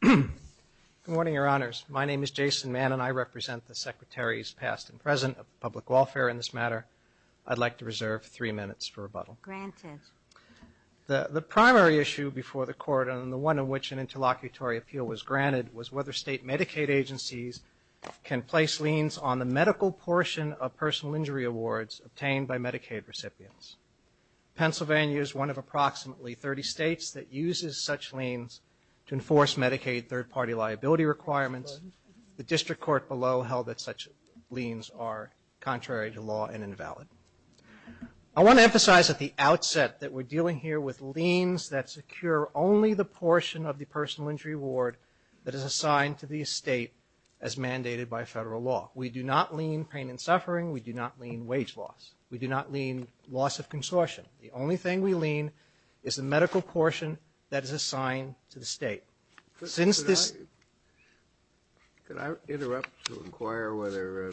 Good morning, Your Honors. My name is Jason Mann and I represent the Secretaries past and present of Public Welfare in this matter. I'd like to reserve three minutes for rebuttal. The primary issue before the Court and the one in which an interlocutory appeal was granted was whether state Medicaid agencies can place liens on the medical portion of personal injury awards obtained by Medicaid recipients. Pennsylvania is one of approximately 30 states that uses such liens to enforce Medicaid third party liability requirements. The District Court below held that such liens are contrary to law and invalid. I want to emphasize at the outset that we're dealing here with liens that secure only the portion of the personal injury award that is assigned to the state as mandated by federal law. We do not lien pain and suffering. We do not lien wage loss. We do not lien loss of consortium. The only thing we lien is the medical portion that is assigned to the state. Since this- Could I interrupt to inquire whether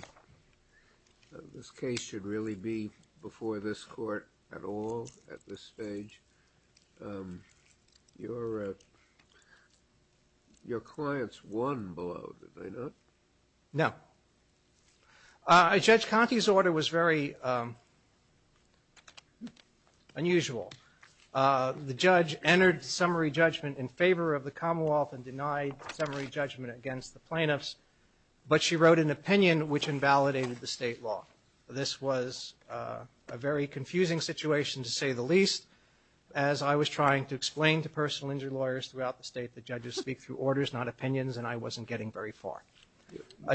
this case should really be before this Court at all at this stage? Your clients won below, did they not? No. Judge Conte's order was very unusual. The judge entered summary judgment in favor of the Commonwealth and denied summary judgment against the plaintiffs, but she wrote an opinion which invalidated the state law. This was a very confusing situation to say the least. As I was trying to explain to personal injury lawyers throughout the state, the judges speak through orders, not opinions, and I wasn't getting very far.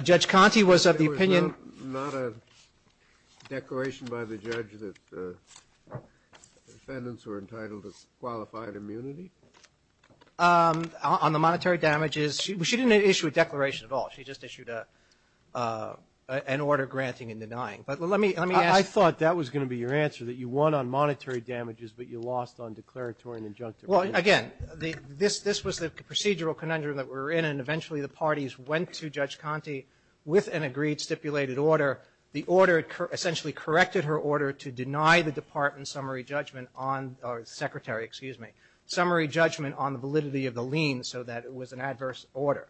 Judge Conte was of the opinion- It was not a declaration by the judge that defendants were entitled to qualified immunity? On the monetary damages, she didn't issue a declaration at all. She just issued an order granting and denying. But let me ask- I thought that was going to be your answer, that you won on monetary damages, but you lost on declaratory and injunctive. Well, again, this was the procedural conundrum that we're in, and eventually the parties went to Judge Conte with an agreed stipulated order. The order essentially corrected her order to deny the department summary judgment on- or the secretary, excuse me- summary judgment on the validity of the lien so that it was an adverse order.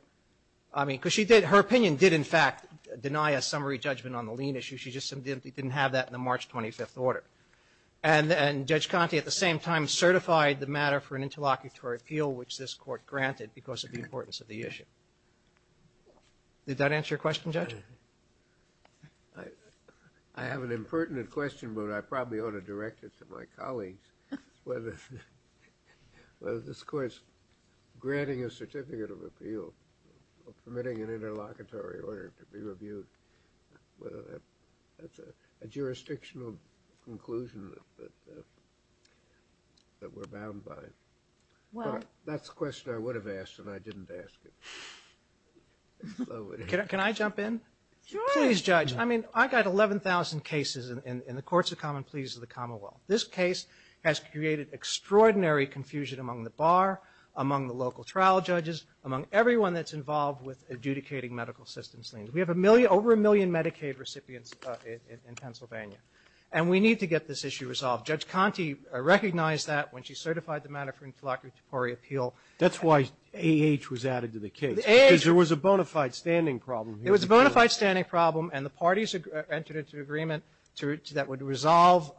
I mean, because she did- her opinion did, in fact, deny a summary judgment on the lien issue. She just didn't have that in the March 25th order. And Judge Conte, at the same time, certified the matter for an interlocutory appeal, which this court granted because of the importance of the issue. Did that answer your question, Judge? I have an impertinent question, but I probably ought to direct it to my colleagues, whether this court's granting a certificate of appeal, permitting an interlocutory order to be reviewed, whether that's a jurisdictional conclusion that we're bound by. Well, that's a question I would have asked, and I didn't ask it. Can I jump in? Please, Judge. I mean, I got 11,000 cases in the Courts of Common Pleas of the Commonwealth. This case has created extraordinary confusion among the bar, among the local trial judges, among everyone that's involved with adjudicating medical assistance liens. We have a million- over a million Medicaid recipients in Pennsylvania. And we need to get this issue resolved. Judge Conte recognized that when she certified the matter for an interlocutory appeal. That's why A.H. was added to the case, because there was a bona fide standing problem. It was a bona fide standing problem, and the parties entered into agreement that would resolve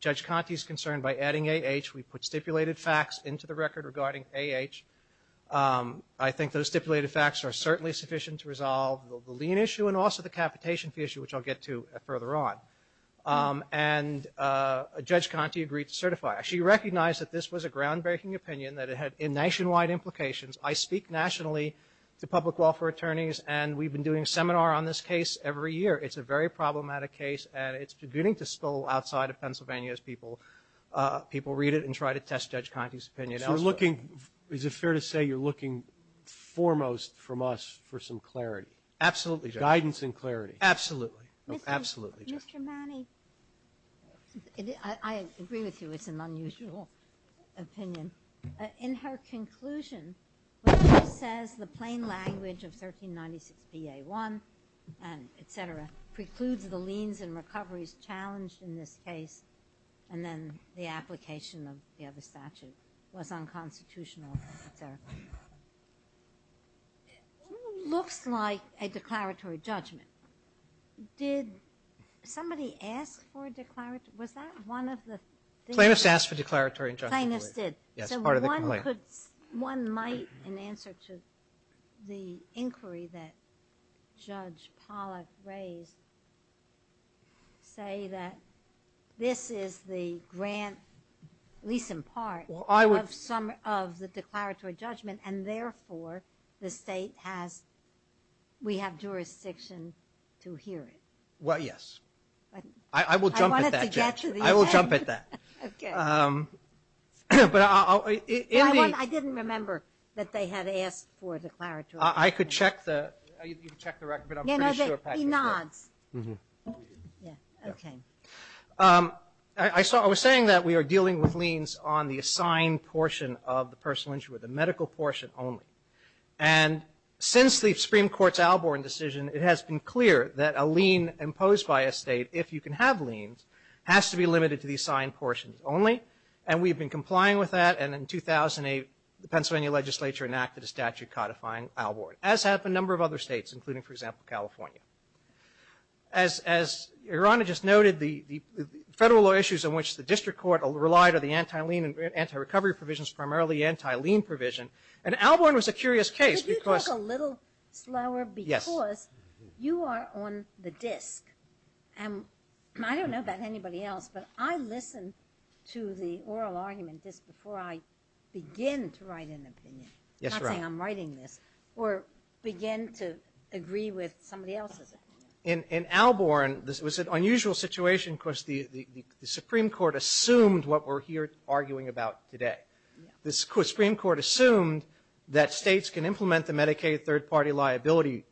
Judge Conte's concern by adding A.H. We put stipulated facts into the record regarding A.H. I think those stipulated facts are certainly sufficient to resolve the lien issue and also the capitation fee issue, which I'll get to further on. And Judge Conte agreed to certify. She recognized that this was a groundbreaking opinion, that it had nationwide implications. I speak nationally to public welfare attorneys, and we've been doing a seminar on this case every year. It's a very problematic case, and it's beginning to spill outside of Pennsylvania as people read it and try to test Judge Conte's opinion. So you're looking- is it fair to say you're looking foremost from us for some clarity? Absolutely, Judge. Guidance and clarity. Absolutely. Absolutely, Judge. Mr. Manning, I agree with you. It's an unusual opinion. In her conclusion, when she says the plain language of 1396 PA1 and et cetera precludes the liens and recoveries challenged in this case, and then the application of the other statute was unconstitutional, et cetera, it looks like a declaratory judgment. Did somebody ask for a declaratory- was that one of the things- Plaintiffs asked for a declaratory judgment. Plaintiffs did. Yes, part of the complaint. One might, in answer to the inquiry that Judge Pollack raised, say that this is the grant, at least in part, of the declaratory judgment, and therefore the plaintiff has the right to hear it. Well, yes. I will jump at that, Judge. I wanted to get to the opinion. I will jump at that. Okay. But I'll- Well, I didn't remember that they had asked for a declaratory judgment. I could check the- you can check the record, but I'm pretty sure Patrick did. You know, there'd be nods. Mm-hmm. Yeah. Okay. I saw- I was saying that we are dealing with liens on the assigned portion of the personal injury, the medical portion only. And since the Supreme Court's Alborn decision, it has been clear that a lien imposed by a state, if you can have liens, has to be limited to the assigned portions only. And we've been complying with that. And in 2008, the Pennsylvania legislature enacted a statute codifying Alborn, as have a number of other states, including, for example, California. As Your Honor just noted, the federal law issues in which the district court relied are the anti-lien and anti-recovery provisions, primarily anti-lien provision. And Alborn was a curious case because- Could you talk a little slower? Yes. Because you are on the disk. And I don't know about anybody else, but I listen to the oral argument just before I begin to write an opinion. Yes, Your Honor. I'm not saying I'm writing this. Or begin to agree with somebody else's opinion. In Alborn, this was an unusual situation because the Supreme Court assumed what we're here arguing about today. The Supreme Court assumed that states can implement the Medicaid third-party liability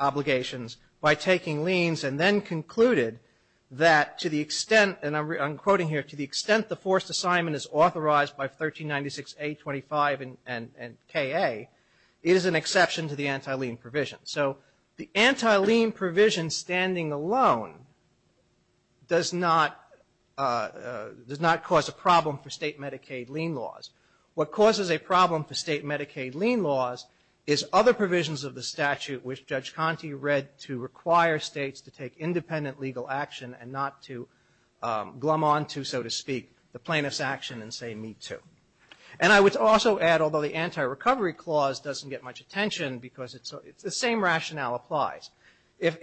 obligations by taking liens and then concluded that to the extent, and I'm quoting here, to the extent the forced assignment is authorized by 1396A25 and K.A., it is an exception to the anti-lien provision. So the anti-lien provision standing alone does not cause a problem for state Medicaid lien laws. What causes a problem for state Medicaid lien laws is other provisions of the statute which Judge Conte read to require states to take independent legal action and not to glum on to, so to speak, the plaintiff's action and say, me too. And I would also add, although the anti-recovery clause doesn't get much attention because it's the same rationale applies. If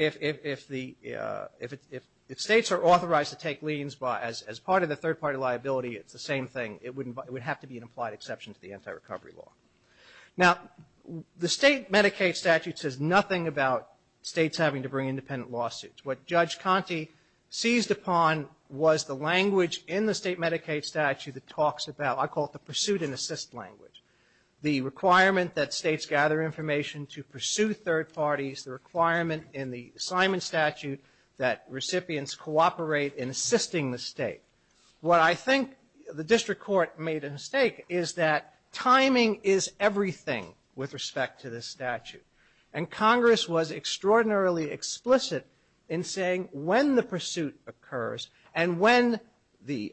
states are authorized to take liens as part of the third-party liability, it's the same thing. It would have to be an implied exception to the anti-recovery law. Now, the state Medicaid statute says nothing about states having to bring independent lawsuits. What Judge Conte seized upon was the language in the state Medicaid statute that talks about, I call it the pursuit and assist language. The requirement that states gather information to pursue third parties, the requirement in the assignment statute that recipients cooperate in assisting the state. What I think the district court made a mistake is that timing is everything with respect to this statute. And Congress was extraordinarily explicit in saying when the pursuit occurs and when the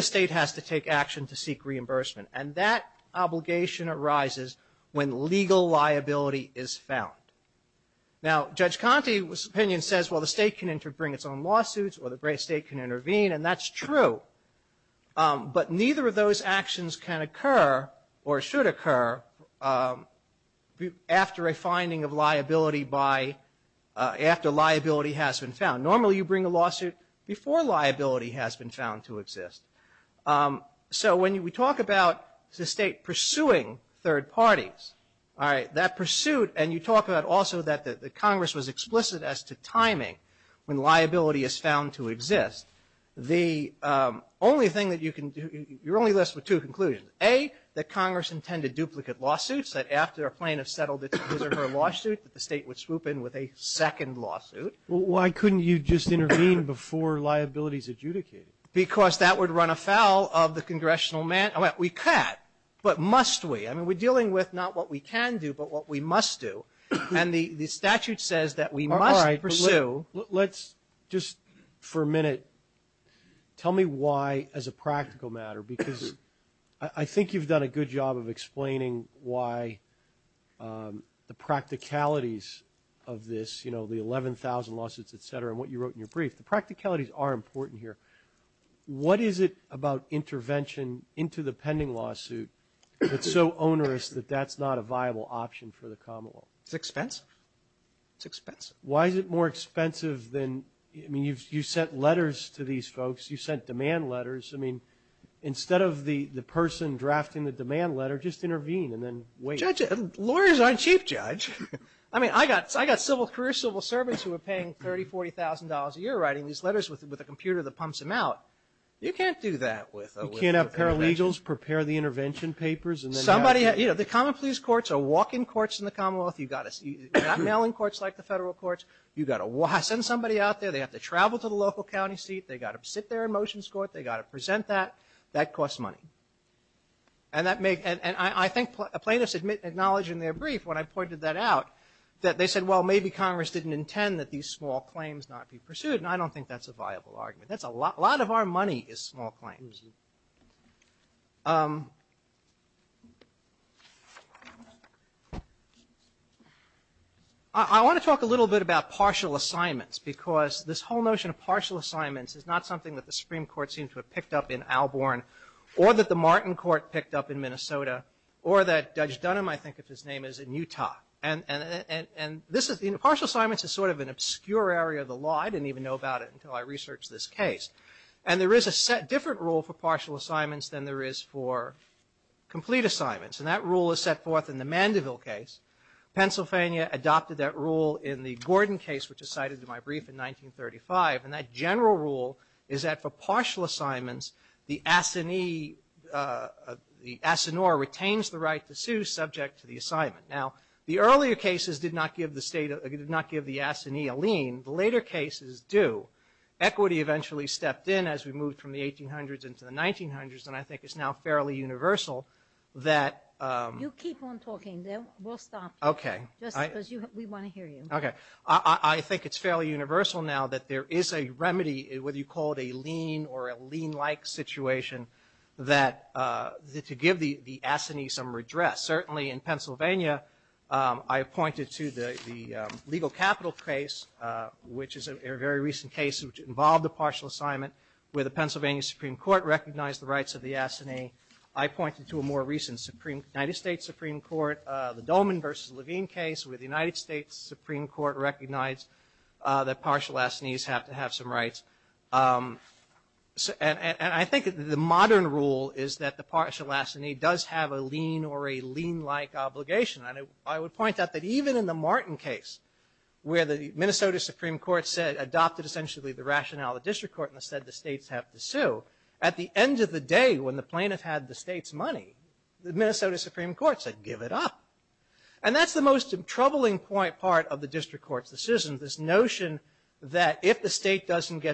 state has to take action to seek reimbursement. And that obligation arises when legal liability is found. Now, Judge Conte's opinion says, well, the state can bring its own lawsuits or the state can intervene. And that's true. But neither of those actions can occur or should occur after a finding of liability by, after liability has been found. Normally, you bring a lawsuit before liability has been found to exist. So when we talk about the state pursuing third parties, all right, that pursuit, and you talk about also that the Congress was explicit as to timing when liability is found to exist, the only thing that you can do, you're only left with two conclusions, A, that Congress intended duplicate lawsuits, that after a plaintiff settled his or her lawsuit, that the state would swoop in with a second lawsuit. Sotomayor, why couldn't you just intervene before liability is adjudicated? Because that would run afoul of the congressional mandate. We can't, but must we? I mean, we're dealing with not what we can do, but what we must do. And the statute says that we must pursue. Let's just for a minute, tell me why as a practical matter, because I think you've done a good job of explaining why the practicalities of this, you know, the 11,000 lawsuits, etc., and what you wrote in your brief. The practicalities are important here. What is it about intervention into the pending lawsuit that's so It's expensive. It's expensive. Why is it more expensive than, I mean, you've sent letters to these folks. You've sent demand letters. I mean, instead of the person drafting the demand letter, just intervene and then wait. Judges, lawyers aren't cheap, Judge. I mean, I got civil service who are paying $30,000, $40,000 a year writing these letters with a computer that pumps them out. You can't do that with a. You can't have paralegals prepare the intervention papers and then. You know, the common pleas courts are walk-in courts in the Commonwealth. You've got mail-in courts like the federal courts. You've got to send somebody out there. They have to travel to the local county seat. They've got to sit there in motions court. They've got to present that. That costs money. And I think plaintiffs acknowledge in their brief, when I pointed that out, that they said, well, maybe Congress didn't intend that these small claims not be pursued, and I don't think that's a viable argument. That's a lot. A lot of our money is small claims. I want to talk a little bit about partial assignments, because this whole notion of partial assignments is not something that the Supreme Court seemed to have picked up in Alborn, or that the Martin Court picked up in Minnesota, or that Judge Dunham, I think of his name, is in Utah. And partial assignments is sort of an obscure area of the law. I didn't even know about it until I researched this case. And there is a different rule for partial assignments than there is for complete assignments. And that rule is set forth in the Mandeville case. Pennsylvania adopted that rule in the Gordon case, which is cited in my brief in 1935. And that general rule is that for partial assignments, the assinore retains the right to sue subject to the assignment. Now, the earlier cases did not give the assinee a lien. The later cases do. Equity eventually stepped in as we moved from the 1800s into the 1900s. And I think it's now fairly universal that... You keep on talking, then we'll stop. Okay. Just because we want to hear you. Okay. I think it's fairly universal now that there is a remedy, whether you call it a lien or a lien-like situation, that to give the assinee some redress. Certainly in Pennsylvania, I pointed to the legal capital case, which is a very recent case which involved a partial assignment where the Pennsylvania Supreme Court recognized the rights of the assinee. I pointed to a more recent United States Supreme Court, the Dolman versus Levine case, where the United States Supreme Court recognized that partial assinees have to have some rights. And I think the modern rule is that the partial assinee does have a lien or a lien-like obligation. And I would point out that even in the Martin case, where the Minnesota Supreme Court adopted essentially the rationale of the district court and said the states have to sue, at the end of the day, when the plaintiff had the state's money, the Minnesota Supreme Court said, give it up. And that's the most troubling part of the district court's decision, this notion that if the state doesn't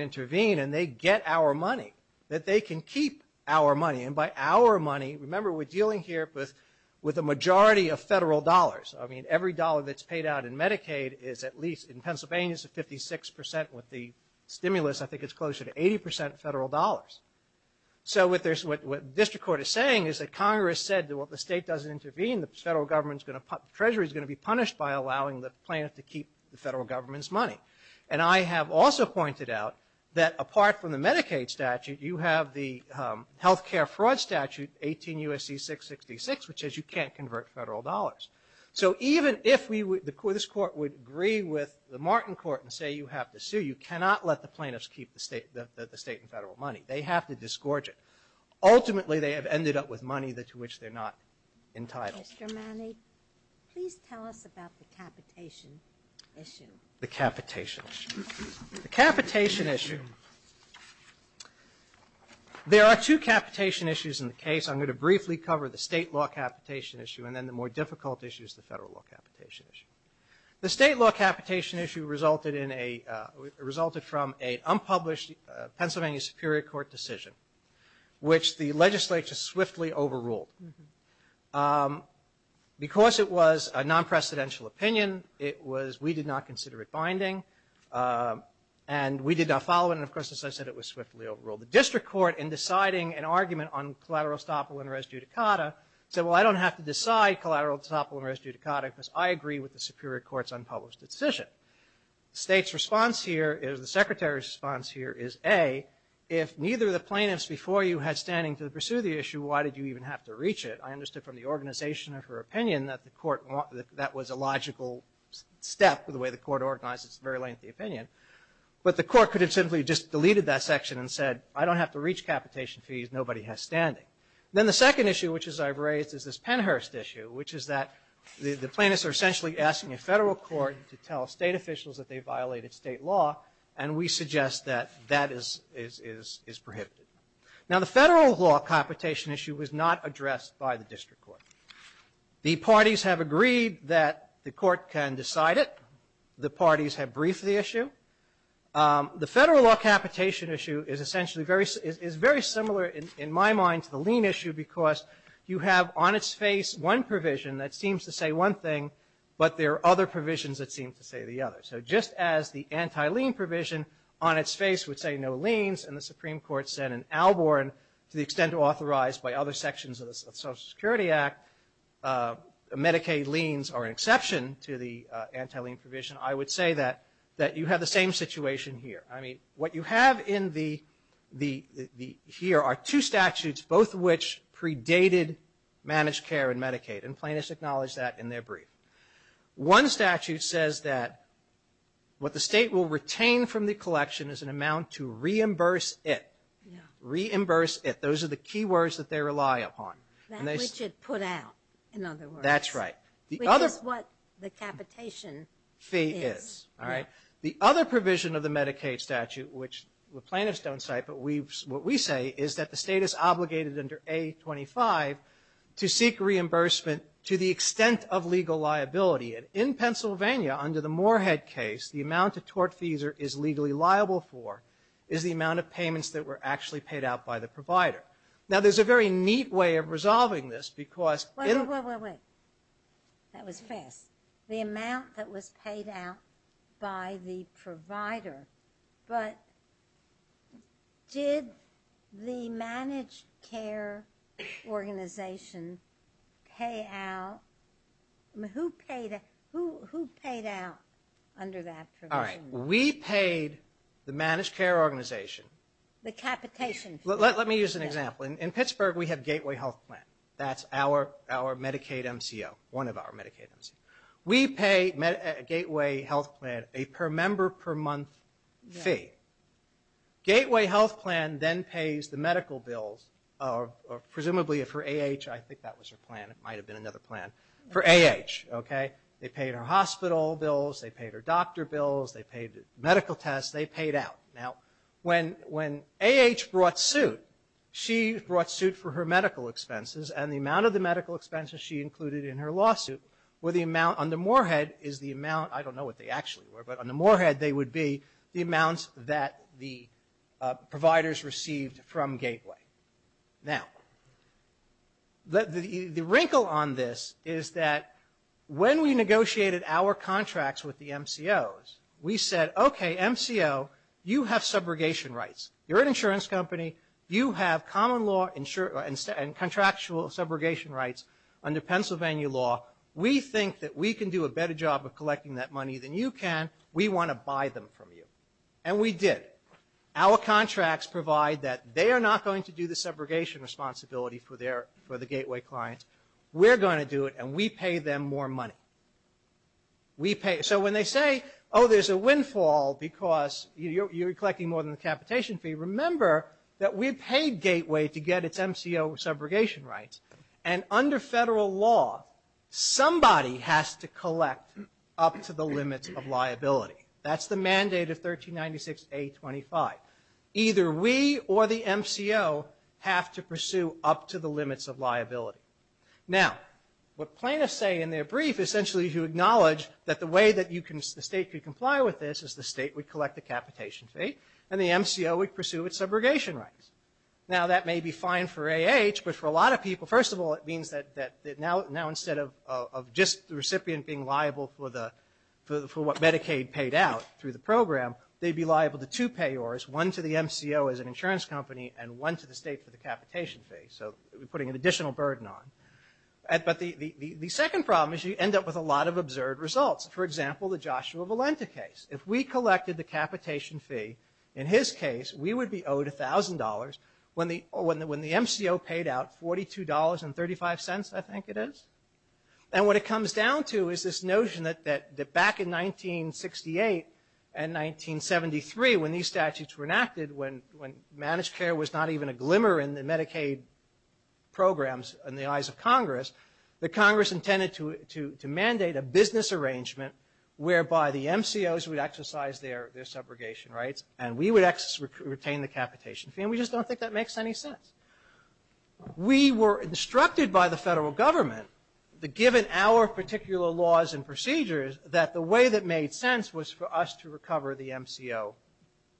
intervene and they get our money, that they can keep our money. And by our money, remember we're dealing here with a majority of federal dollars. I mean, every dollar that's paid out in Medicaid is at least, in Pennsylvania, it's at 56%. With the stimulus, I think it's closer to 80% federal dollars. So what the district court is saying is that Congress said, well, if the state doesn't intervene, the federal government's going to, Treasury's going to be punished by allowing the plaintiff to keep the federal government's money. And I have also pointed out that apart from the Medicaid statute, you have the health care fraud statute, 18 U.S.C. 666, which says you can't convert federal dollars. So even if this court would agree with the Martin court and say you have to sue, you cannot let the plaintiffs keep the state and federal money. They have to disgorge it. Ultimately, they have ended up with money to which they're not entitled. Mr. Manning, please tell us about the capitation issue. The capitation issue. The capitation issue. There are two capitation issues in the case. I'm going to briefly cover the state law capitation issue, and then the more difficult issue is the federal law capitation issue. The state law capitation issue resulted in a, resulted from a unpublished Pennsylvania Superior Court decision, which the legislature swiftly overruled. Because it was a non-precedential opinion, it was, we did not consider it binding, and we did not follow it. And of course, as I said, it was swiftly overruled. The district court, in deciding an argument on collateral estoppel and res judicata, said, well, I don't have to decide collateral estoppel and res judicata because I agree with the Superior Court's unpublished decision. State's response here is, the Secretary's response here is, A, if neither of the plaintiffs before you had standing to pursue the issue, why did you even have to reach it? I understood from the organization of her opinion that the court, that was a logical step in the way the court organized its very lengthy opinion. But the court could have simply just deleted that section and said, I don't have to reach capitation fees, nobody has standing. Then the second issue, which is I've raised, is this Penhurst issue, which is that the plaintiffs are essentially asking a federal court to tell state officials that they violated state law, and we suggest that that is prohibited. Now, the federal law capitation issue was not addressed by the district court. The parties have agreed that the court can decide it. The parties have briefed the issue. The federal law capitation issue is essentially very, very similar in my mind to the lien issue, because you have on its face one provision that seems to say one thing, but there are other provisions that seem to say the other. So just as the anti-lien provision on its face would say no liens, and the Supreme Court said in Alborn, to the extent authorized by other sections of the Social Security Act, Medicaid liens are an exception to the anti-lien provision. I would say that you have the same situation here. I mean, what you have here are two statutes, both of which predated managed care and Medicaid, and plaintiffs acknowledged that in their brief. One statute says that what the state will retain from the collection is an amount to reimburse it. Reimburse it. Those are the key words that they rely upon. That which it put out, in other words. That's right. Which is what the capitation fee is. The other provision of the Medicaid statute, which the plaintiffs don't cite, but what we say is that the state is obligated under A25 to seek reimbursement to the extent of legal liability. And in Pennsylvania, under the Moorhead case, the amount a tortfeasor is legally liable for is the amount of payments that were actually paid out by the provider. Now, there's a very neat way of resolving this, because... Wait, wait, wait. That was fast. The amount that was paid out by the provider. But did the managed care organization pay out... Who paid out under that provision? All right, we paid the managed care organization. The capitation fee. Let me use an example. In Pittsburgh, we have Gateway Health Plan. That's our Medicaid MCO. One of our Medicaid MCOs. We pay Gateway Health Plan a per member per month fee. Gateway Health Plan then pays the medical bills, presumably for AH, I think that was her plan. It might have been another plan. For AH, okay? They paid her hospital bills, they paid her doctor bills, they paid medical tests, they paid out. Now, when AH brought suit, she brought suit for her medical expenses, and the amount of the medical expenses she included in her lawsuit were the amount, on the moorhead, is the amount... I don't know what they actually were, but on the moorhead, they would be the amounts that the providers received from Gateway. Now, the wrinkle on this is that when we negotiated our contracts with the MCOs, we said, okay, MCO, you have subrogation rights. You're an insurance company. You have common law and contractual subrogation rights under Pennsylvania law. We think that we can do a better job of collecting that money than you can. We want to buy them from you. And we did. Our contracts provide that they are not going to do the subrogation responsibility for the Gateway clients. We're going to do it, and we pay them more money. So when they say, oh, there's a windfall because you're collecting more than the capitation fee, remember that we paid Gateway to get its MCO subrogation rights. And under federal law, somebody has to collect up to the limits of liability. That's the mandate of 1396A25. Either we or the MCO have to pursue up to the limits of liability. Now, what plaintiffs say in their brief, essentially to acknowledge that the way that the state could comply with this is the state would collect the capitation fee, and the MCO would pursue its subrogation rights. Now, that may be fine for AH, but for a lot of people, first of all, it means that now instead of just the recipient being liable for what Medicaid paid out through the program, they'd be liable to two payors, one to the MCO as an insurance company, and one to the state for the capitation fee. So we're putting an additional burden on. But the second problem is you end up with a lot of absurd results. For example, the Joshua Valenta case. If we collected the capitation fee, in his case, we would be owed $1,000 when the MCO paid out $42.35, I think it is. And what it comes down to is this notion that back in 1968 and 1973, when these statutes were enacted, when managed care was not even a glimmer in the Medicaid programs in the eyes of Congress, that Congress intended to mandate a business arrangement whereby the MCOs would exercise their subrogation rights and we would retain the capitation fee. And we just don't think that makes any sense. We were instructed by the federal government, given our particular laws and procedures, that the way that made sense was for us to recover the MCO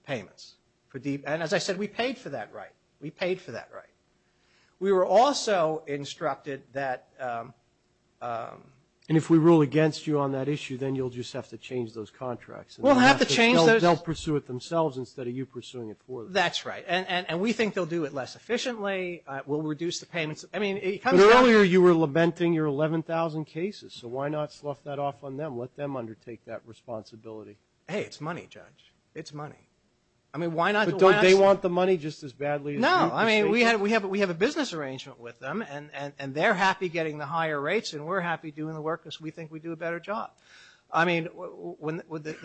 payments. And as I said, we paid for that right. We paid for that right. We were also instructed that, And if we rule against you on that issue, then you'll just have to change those contracts. We'll have to change those. They'll pursue it themselves instead of you pursuing it for them. That's right. And we think they'll do it less efficiently. We'll reduce the payments. I mean, it comes down to... But earlier you were lamenting your 11,000 cases. So why not slough that off on them? Let them undertake that responsibility. Hey, it's money, Judge. It's money. I mean, why not... But don't they want the money just as badly as you do? No, I mean, we have a business arrangement with them and they're happy getting the higher rates and we're happy doing the work because we think we do a better job. I mean,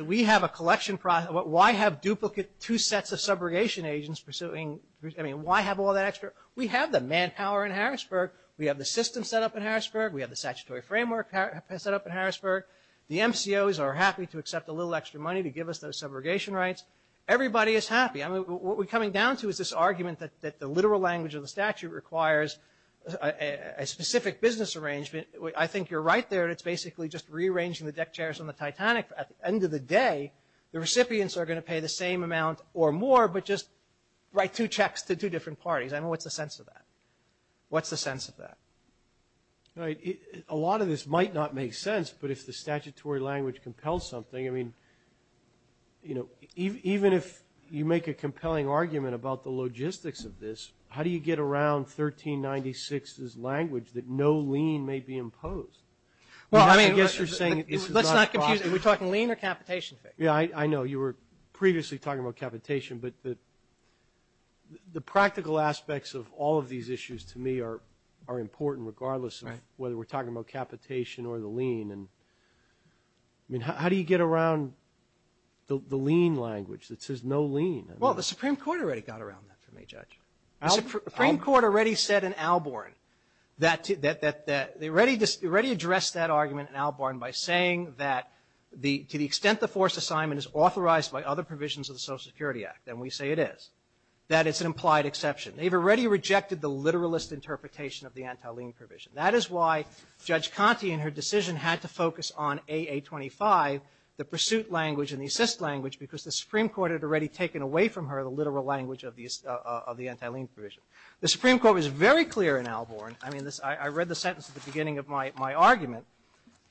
we have a collection process. Why have duplicate, two sets of subrogation agents pursuing... I mean, why have all that extra? We have the manpower in Harrisburg. We have the system set up in Harrisburg. We have the statutory framework set up in Harrisburg. The MCOs are happy to accept a little extra money to give us those subrogation rights. Everybody is happy. I mean, what we're coming down to is this argument that the literal language of the statute requires a specific business arrangement. I think you're right there. It's basically just rearranging the deck chairs on the Titanic. At the end of the day, the recipients are going to pay the same amount or more, but just write two checks to two different parties. I mean, what's the sense of that? What's the sense of that? Right. A lot of this might not make sense, but if the statutory language compels something, I mean, you know, even if you make a compelling argument about the logistics of this, how do you get around 1396's language that no lien may be imposed? Well, I mean, let's not confuse it. Are we talking lien or capitation? Yeah, I know. You were previously talking about capitation, but the practical aspects of all of these issues, to me, are important, regardless of whether we're talking about capitation or the lien. And I mean, how do you get around the lien language that says no lien? Well, the Supreme Court already got around that for me, Judge. The Supreme Court already said in Albarn that they already addressed that argument in Albarn by saying that to the extent the forced assignment is authorized by other provisions of the Social Security Act, and we say it is, that it's an implied exception. They've already rejected the literalist interpretation of the anti-lien provision. That is why Judge Conte in her decision had to focus on AA25, the pursuit language and the assist language, because the Supreme Court had already taken away from her the literal language of the anti-lien provision. The Supreme Court was very clear in Albarn. I mean, I read the sentence at the beginning of my argument.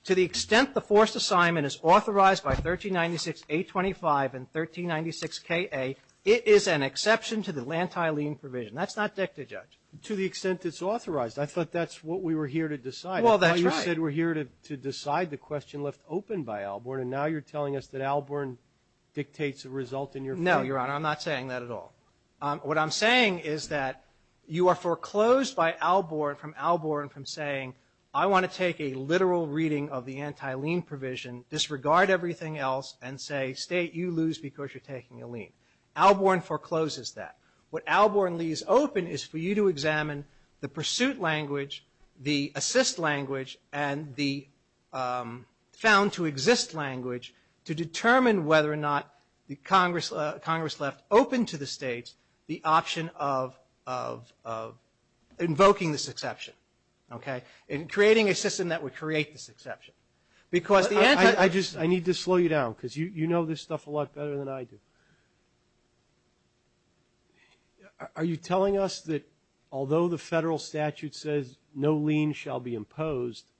To the extent the forced assignment is authorized by 1396A25 and 1396KA, it is an exception to the anti-lien provision. That's not dicta, Judge. To the extent it's authorized. I thought that's what we were here to decide. Well, that's right. You said we're here to decide the question left open by Albarn, and now you're telling us that Albarn dictates the result in your favor. No, Your Honor. I'm not saying that at all. What I'm saying is that you are foreclosed by Albarn from Albarn from saying, I want to take a literal reading of the anti-lien provision, disregard everything else, and say, state you lose because you're taking a lien. Albarn forecloses that. What Albarn leaves open is for you to examine the pursuit language, the assist language, and the found-to-exist language to determine whether or not Congress left open to the states the option of invoking this exception. In creating a system that would create this exception. Because the anti... I need to slow you down, because you know this stuff a lot better than I do. Are you telling us that although the federal statute says no lien shall be imposed,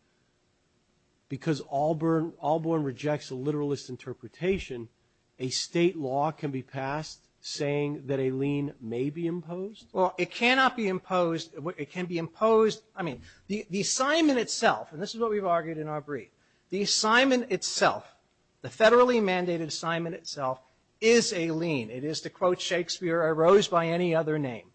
because Albarn rejects a literalist interpretation, a state law can be passed saying that a lien may be imposed? Well, it cannot be imposed. It can be imposed... I mean, the assignment itself, and this is what we've argued in our brief, the assignment itself, the federally mandated assignment itself, is a lien. It is to quote Shakespeare, a rose by any other name,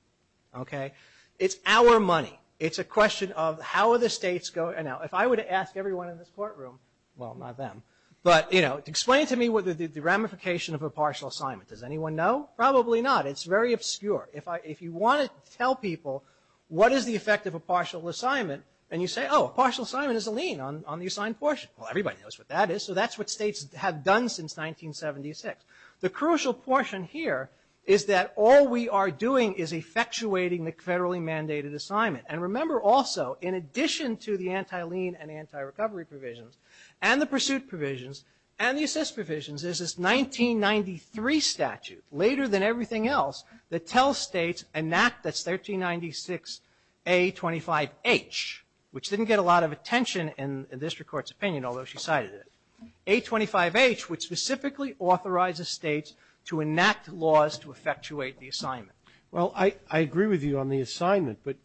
okay? It's our money. It's a question of how are the states going... Now, if I were to ask everyone in this courtroom, well, not them, but explain to me the ramification of a partial assignment. Does anyone know? Probably not. It's very obscure. If you want to tell people what is the effect of a partial assignment, and you say, oh, a partial assignment is a lien on the assigned portion. Well, everybody knows what that is, so that's what states have done since 1976. The crucial portion here is that all we are doing is effectuating the federally mandated assignment. And remember also, in addition to the anti-lien and anti-recovery provisions, and the pursuit provisions, and the assist provisions, is this 1993 statute, later than everything else, that tells states enact this 1396 A25H, which didn't get a lot of attention in the district court's opinion, although she cited it. A25H, which specifically authorizes states to enact laws to effectuate the assignment. Well, I agree with you on the assignment, but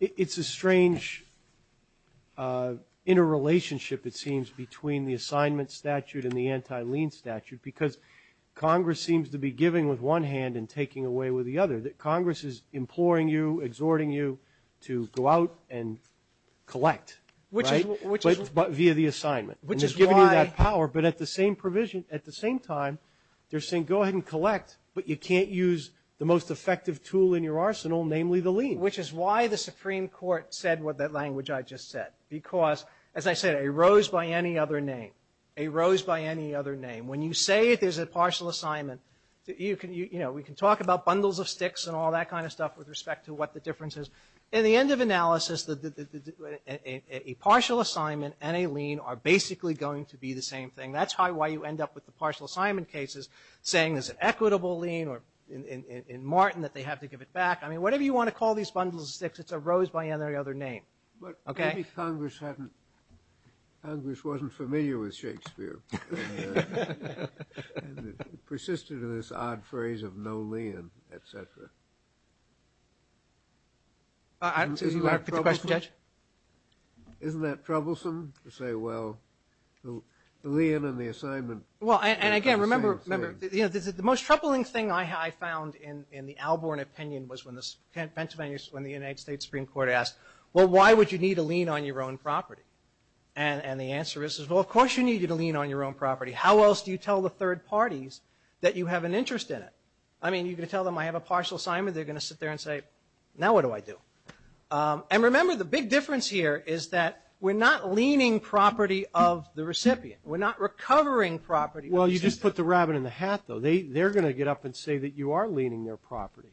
it's a strange interrelationship, it seems, between the assignment statute and the anti-lien statute, because Congress seems to be giving with one hand and taking away with the other, that Congress is imploring you, exhorting you to go out and collect. Right? But via the assignment. And it's giving you that power, but at the same provision, at the same time, they're saying go ahead and collect, but you can't use the most effective tool in your arsenal, namely the lien. Which is why the Supreme Court said what that language I just said. Because, as I said, a rose by any other name. A rose by any other name. When you say there's a partial assignment, you can, you know, we can talk about bundles of sticks and all that kind of stuff with respect to what the difference is. In the end of analysis, a partial assignment and a lien are basically going to be the same thing. That's why you end up with the partial assignment cases saying there's an equitable lien or in Martin that they have to give it back. I mean, whatever you want to call these bundles of sticks, it's a rose by any other name. Okay? But maybe Congress hadn't, Congress wasn't familiar with Shakespeare. And it persisted in this odd phrase of no lien, et cetera. I don't see if you want to take the question, Judge. Isn't that troublesome to say, well, the lien and the assignment. Well, and again, remember, the most troubling thing I found in the Alborn opinion was when the Pennsylvania, when the United States Supreme Court asked, well, why would you need a lien on your own property? And the answer is, well, of course you need a lien on your own property. How else do you tell the third parties that you have an interest in it? I mean, you can tell them I have a partial assignment. They're going to sit there and say, now what do I do? And remember the big difference here is that we're not leaning property of the recipient. We're not recovering property of the recipient. Well, you just put the rabbit in the hat, though. They're going to get up and say that you are leaning their property.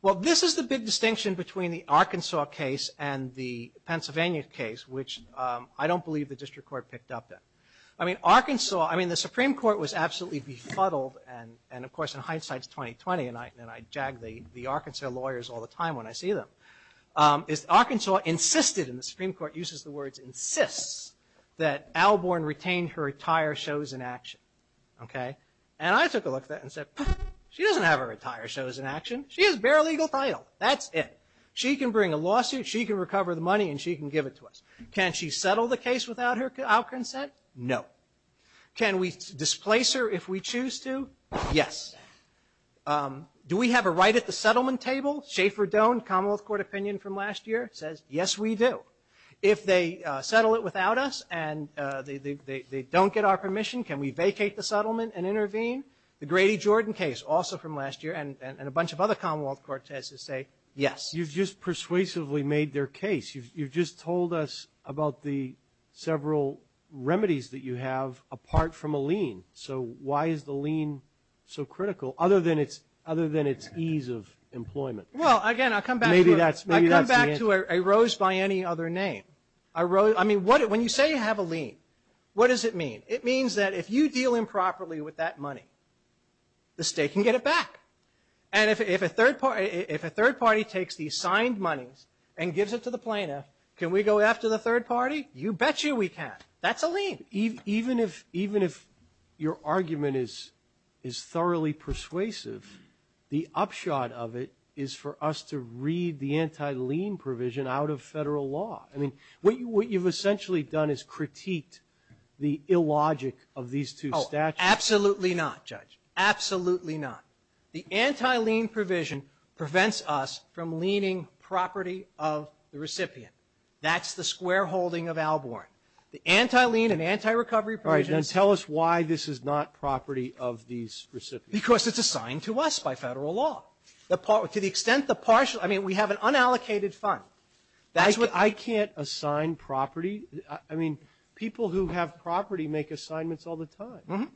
Well, this is the big distinction between the Arkansas case and the Pennsylvania case, which I don't believe the district court picked up in. I mean, Arkansas, I mean, the Supreme Court was absolutely befuddled. And of course, in hindsight, it's 2020. And I jag the Arkansas lawyers all the time when I see them. Arkansas insisted, and the Supreme Court uses the words, insists that Alborn retain her entire shows in action, okay? And I took a look at that and said, she doesn't have her entire shows in action. She has bare legal title. That's it. She can bring a lawsuit, she can recover the money, and she can give it to us. Can she settle the case without Alcorn's consent? No. Can we displace her if we choose to? Yes. Do we have a right at the settlement table? Schaefer Doan, Commonwealth Court opinion from last year, says, yes, we do. If they settle it without us and they don't get our permission, can we vacate the settlement and intervene? The Grady Jordan case, also from last year, and a bunch of other Commonwealth court tests say, yes. You've just persuasively made their case. You've just told us about the several remedies that you have apart from a lien. So why is the lien so critical other than its ease of employment? Well, again, I'll come back to it. I rose by any other name. I mean, when you say you have a lien, what does it mean? It means that if you deal improperly with that money, the state can get it back. And if a third party takes the signed monies and gives it to the plaintiff, can we go after the third party? You bet you we can. That's a lien. Even if your argument is thoroughly persuasive, the upshot of it is for us to read the anti-lien provision out of federal law. I mean, what you've essentially done is critiqued the illogic of these two statutes. Oh, absolutely not, Judge. Absolutely not. The anti-lien provision prevents us from liening property of the recipient. That's the square holding of Alborn. The anti-lien and anti-recovery provisions- All right, now tell us why this is not property of these recipients. Because it's assigned to us by federal law. To the extent the partial, I mean, we have an unallocated fund. That's what- I can't assign property. I mean, people who have property make assignments all the time.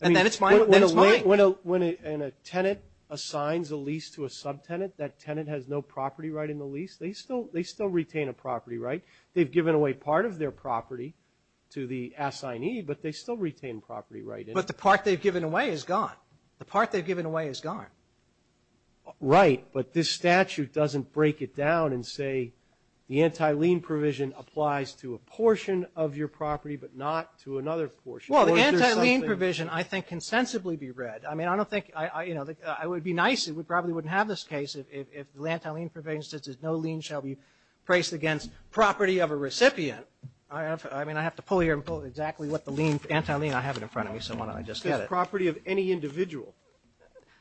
And then it's mine, then it's mine. When a tenant assigns a lease to a subtenant, that tenant has no property right in the lease, they still retain a property right. They've given away part of their property to the assignee, but they still retain property right. But the part they've given away is gone. The part they've given away is gone. Right, but this statute doesn't break it down and say the anti-lien provision applies to a portion of your property, but not to another portion. Well, the anti-lien provision, I think, can sensibly be read. I mean, I don't think, I would be nice if we probably wouldn't have this case if the anti-lien provision says no lien shall be placed against property of a recipient. I mean, I have to pull here and pull exactly what the lien, anti-lien, I have it in front of me, so why don't I just get it? Property of any individual.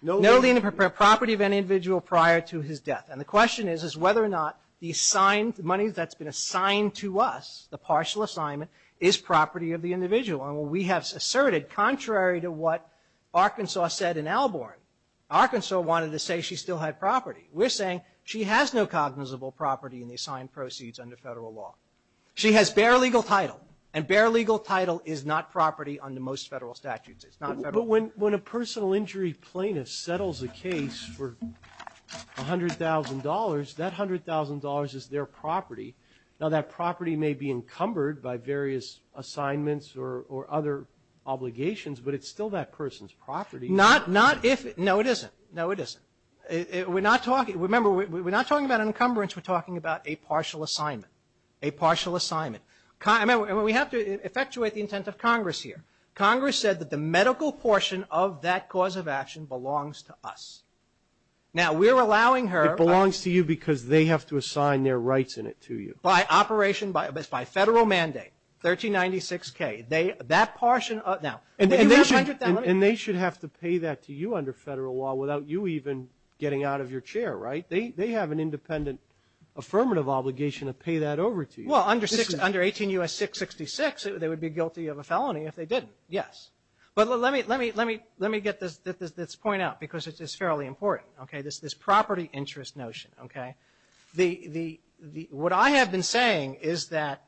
No lien of property of any individual prior to his death. And the question is whether or not the money that's been assigned to us, the partial assignment, is property of the individual. And we have asserted, contrary to what Arkansas said in Alborn, Arkansas wanted to say she still had property. We're saying she has no cognizable property in the assigned proceeds under federal law. She has bare legal title, and bare legal title is not property under most federal statutes. It's not federal. But when a personal injury plaintiff settles a case for $100,000, that $100,000 is their property. Now that property may be encumbered by various assignments or other obligations, but it's still that person's property. Not if, no it isn't, no it isn't. We're not talking, remember, we're not talking about an encumbrance, we're talking about a partial assignment, a partial assignment. And we have to effectuate the intent of Congress here. Congress said that the medical portion of that cause of action belongs to us. Now we're allowing her. It belongs to you because they have to assign their rights in it to you. By operation, it's by federal mandate, 1396-K. That portion, now, if you have $100,000. And they should have to pay that to you under federal law without you even getting out of your chair, right? They have an independent affirmative obligation to pay that over to you. Well, under 18 U.S. 666, they would be guilty of a felony if they didn't, yes. But let me get this point out because it's fairly important, okay? This property interest notion, okay? The, what I have been saying is that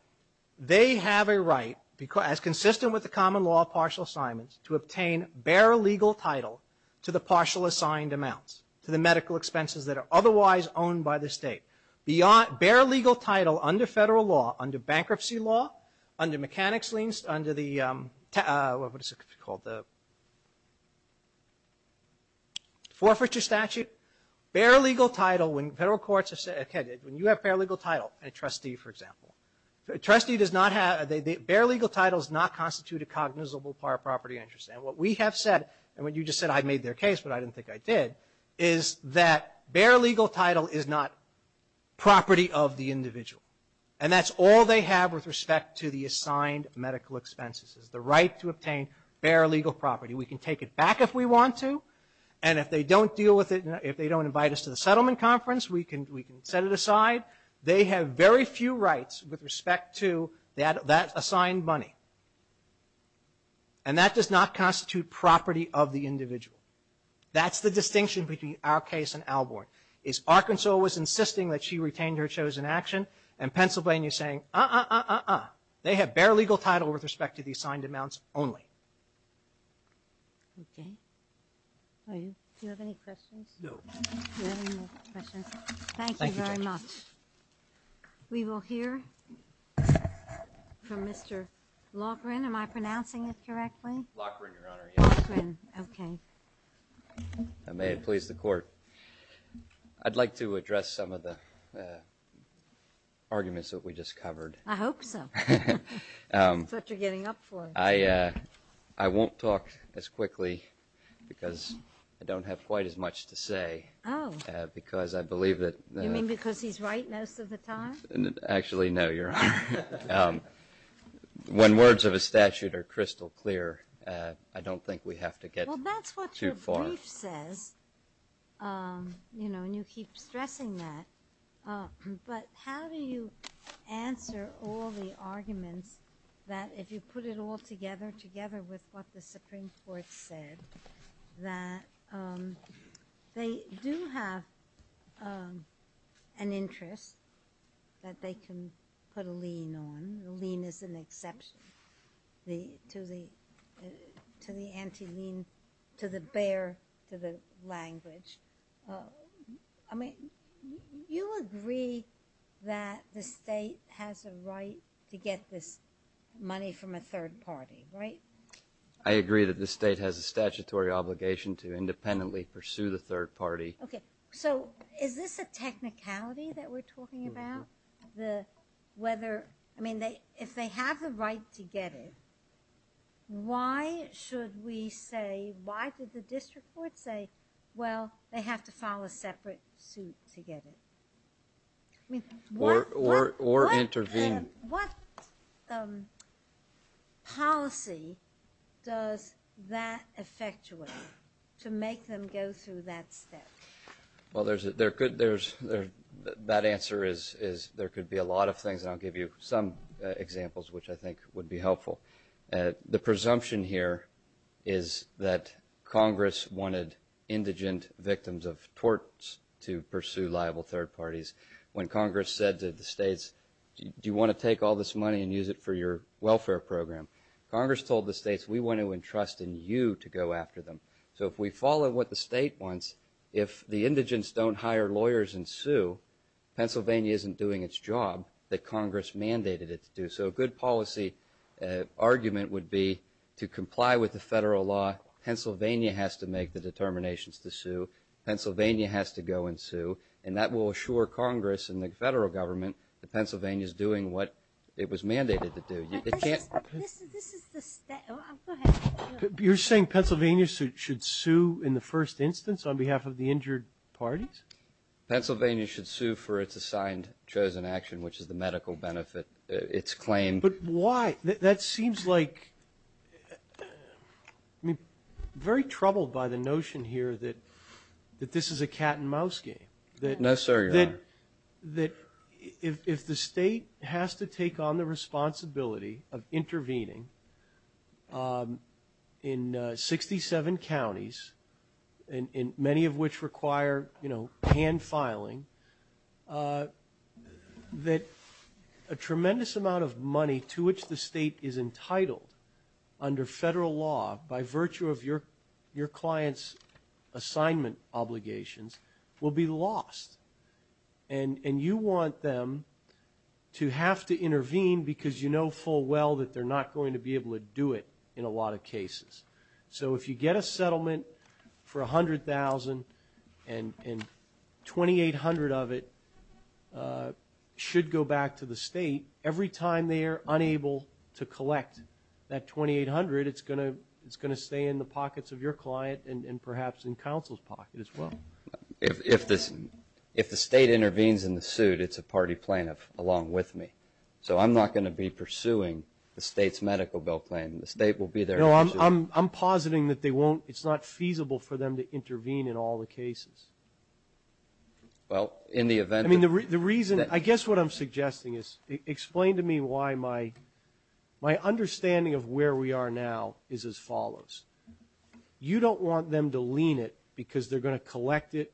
they have a right, as consistent with the common law of partial assignments, to obtain bare legal title to the partial assigned amounts, to the medical expenses that are otherwise owned by the state. Beyond, bare legal title under federal law, under bankruptcy law, under mechanics liens, under the, what is it called? Forfeiture statute. Bare legal title, when federal courts have said, okay, when you have bare legal title, a trustee, for example, a trustee does not have, bare legal title does not constitute a cognizable part of property interest. And what we have said, and what you just said, I made their case, but I didn't think I did, is that bare legal title is not property of the individual. And that's all they have with respect to the assigned medical expenses, is the right to obtain bare legal property. We can take it back if we want to, and if they don't deal with it, if they don't invite us to the settlement conference, we can set it aside. They have very few rights with respect to that assigned money. And that does not constitute property of the individual. That's the distinction between our case and Alborn. Is Arkansas was insisting that she retained her chosen action, and Pennsylvania's saying, uh-uh, uh-uh, uh-uh. They have bare legal title with respect to the assigned amounts only. Okay, do you have any questions? No. Do you have any more questions? Thank you very much. We will hear from Mr. Loughran, am I pronouncing it correctly? Loughran, Your Honor, yes. Loughran, okay. I may have pleased the court. I'd like to address some of the arguments that we just covered. I hope so. That's what you're getting up for. I won't talk as quickly, because I don't have quite as much to say. Oh. Because I believe that. You mean because he's right most of the time? Actually, no, Your Honor. When words of a statute are crystal clear, I don't think we have to get too far. Well, that's what your brief says, you know, and you keep stressing that. But how do you answer all the arguments that if you put it all together, together with what the Supreme Court said, that they do have an interest that they can put a lien on. A lien is an exception to the anti-lien, to the bare, to the language. I mean, you agree that the state has a right to get this money from a third party, right? I agree that the state has a statutory obligation to independently pursue the third party. Okay, so is this a technicality that we're talking about? I mean, if they have the right to get it, why should we say, why did the district court say, well, they have to file a separate suit to get it? Or intervene. What policy does that effectuate to make them go through that step? Well, that answer is there could be a lot of things, and I'll give you some examples which I think would be helpful. The presumption here is that Congress wanted indigent victims of torts to pursue liable third parties. When Congress said to the states, do you want to take all this money and use it for your welfare program? Congress told the states, we want to entrust in you to go after them. So if we follow what the state wants, if the indigents don't hire lawyers and sue, Pennsylvania isn't doing its job that Congress mandated it to do. So a good policy argument would be to comply with the federal law, Pennsylvania has to make the determinations to sue, Pennsylvania has to go and sue, and that will assure Congress and the federal government that Pennsylvania's doing what it was mandated to do. It can't. This is the, go ahead. You're saying Pennsylvania should sue in the first instance on behalf of the injured parties? Pennsylvania should sue for its assigned chosen action, which is the medical benefit. It's claimed. But why? That seems like, I mean, very troubled by the notion here that this is a cat and mouse game. No, sir, your honor. That if the state has to take on the responsibility of intervening in 67 counties, and many of which require hand filing, that a tremendous amount of money to which the state is entitled under federal law by virtue of your client's assignment obligations will be lost. And you want them to have to intervene because you know full well that they're not going to be able to do it in a lot of cases. So if you get a settlement for 100,000 and 2,800 of it should go back to the state, every time they are unable to collect that 2,800, it's going to stay in the pockets of your client and perhaps in counsel's pocket as well. If the state intervenes in the suit, it's a party plaintiff along with me. So I'm not going to be pursuing the state's medical bill claim. The state will be there. No, I'm positing that it's not feasible for them to intervene in all the cases. I mean, the reason, I guess what I'm suggesting is explain to me why my understanding of where we are now is as follows. You don't want them to lean it because they're going to collect it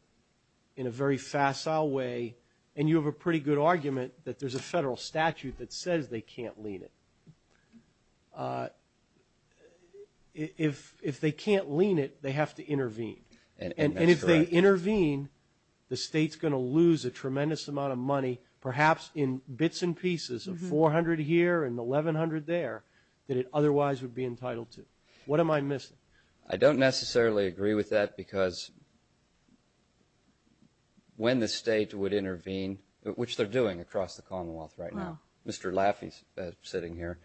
in a very facile way and you have a pretty good argument that there's a federal statute that says they can't lean it. But if they can't lean it, they have to intervene. And if they intervene, the state's going to lose a tremendous amount of money, perhaps in bits and pieces of 400 here and 1,100 there that it otherwise would be entitled to. What am I missing? I don't necessarily agree with that because when the state would intervene, which they're doing across the Commonwealth right now, Mr. Laffey's sitting here,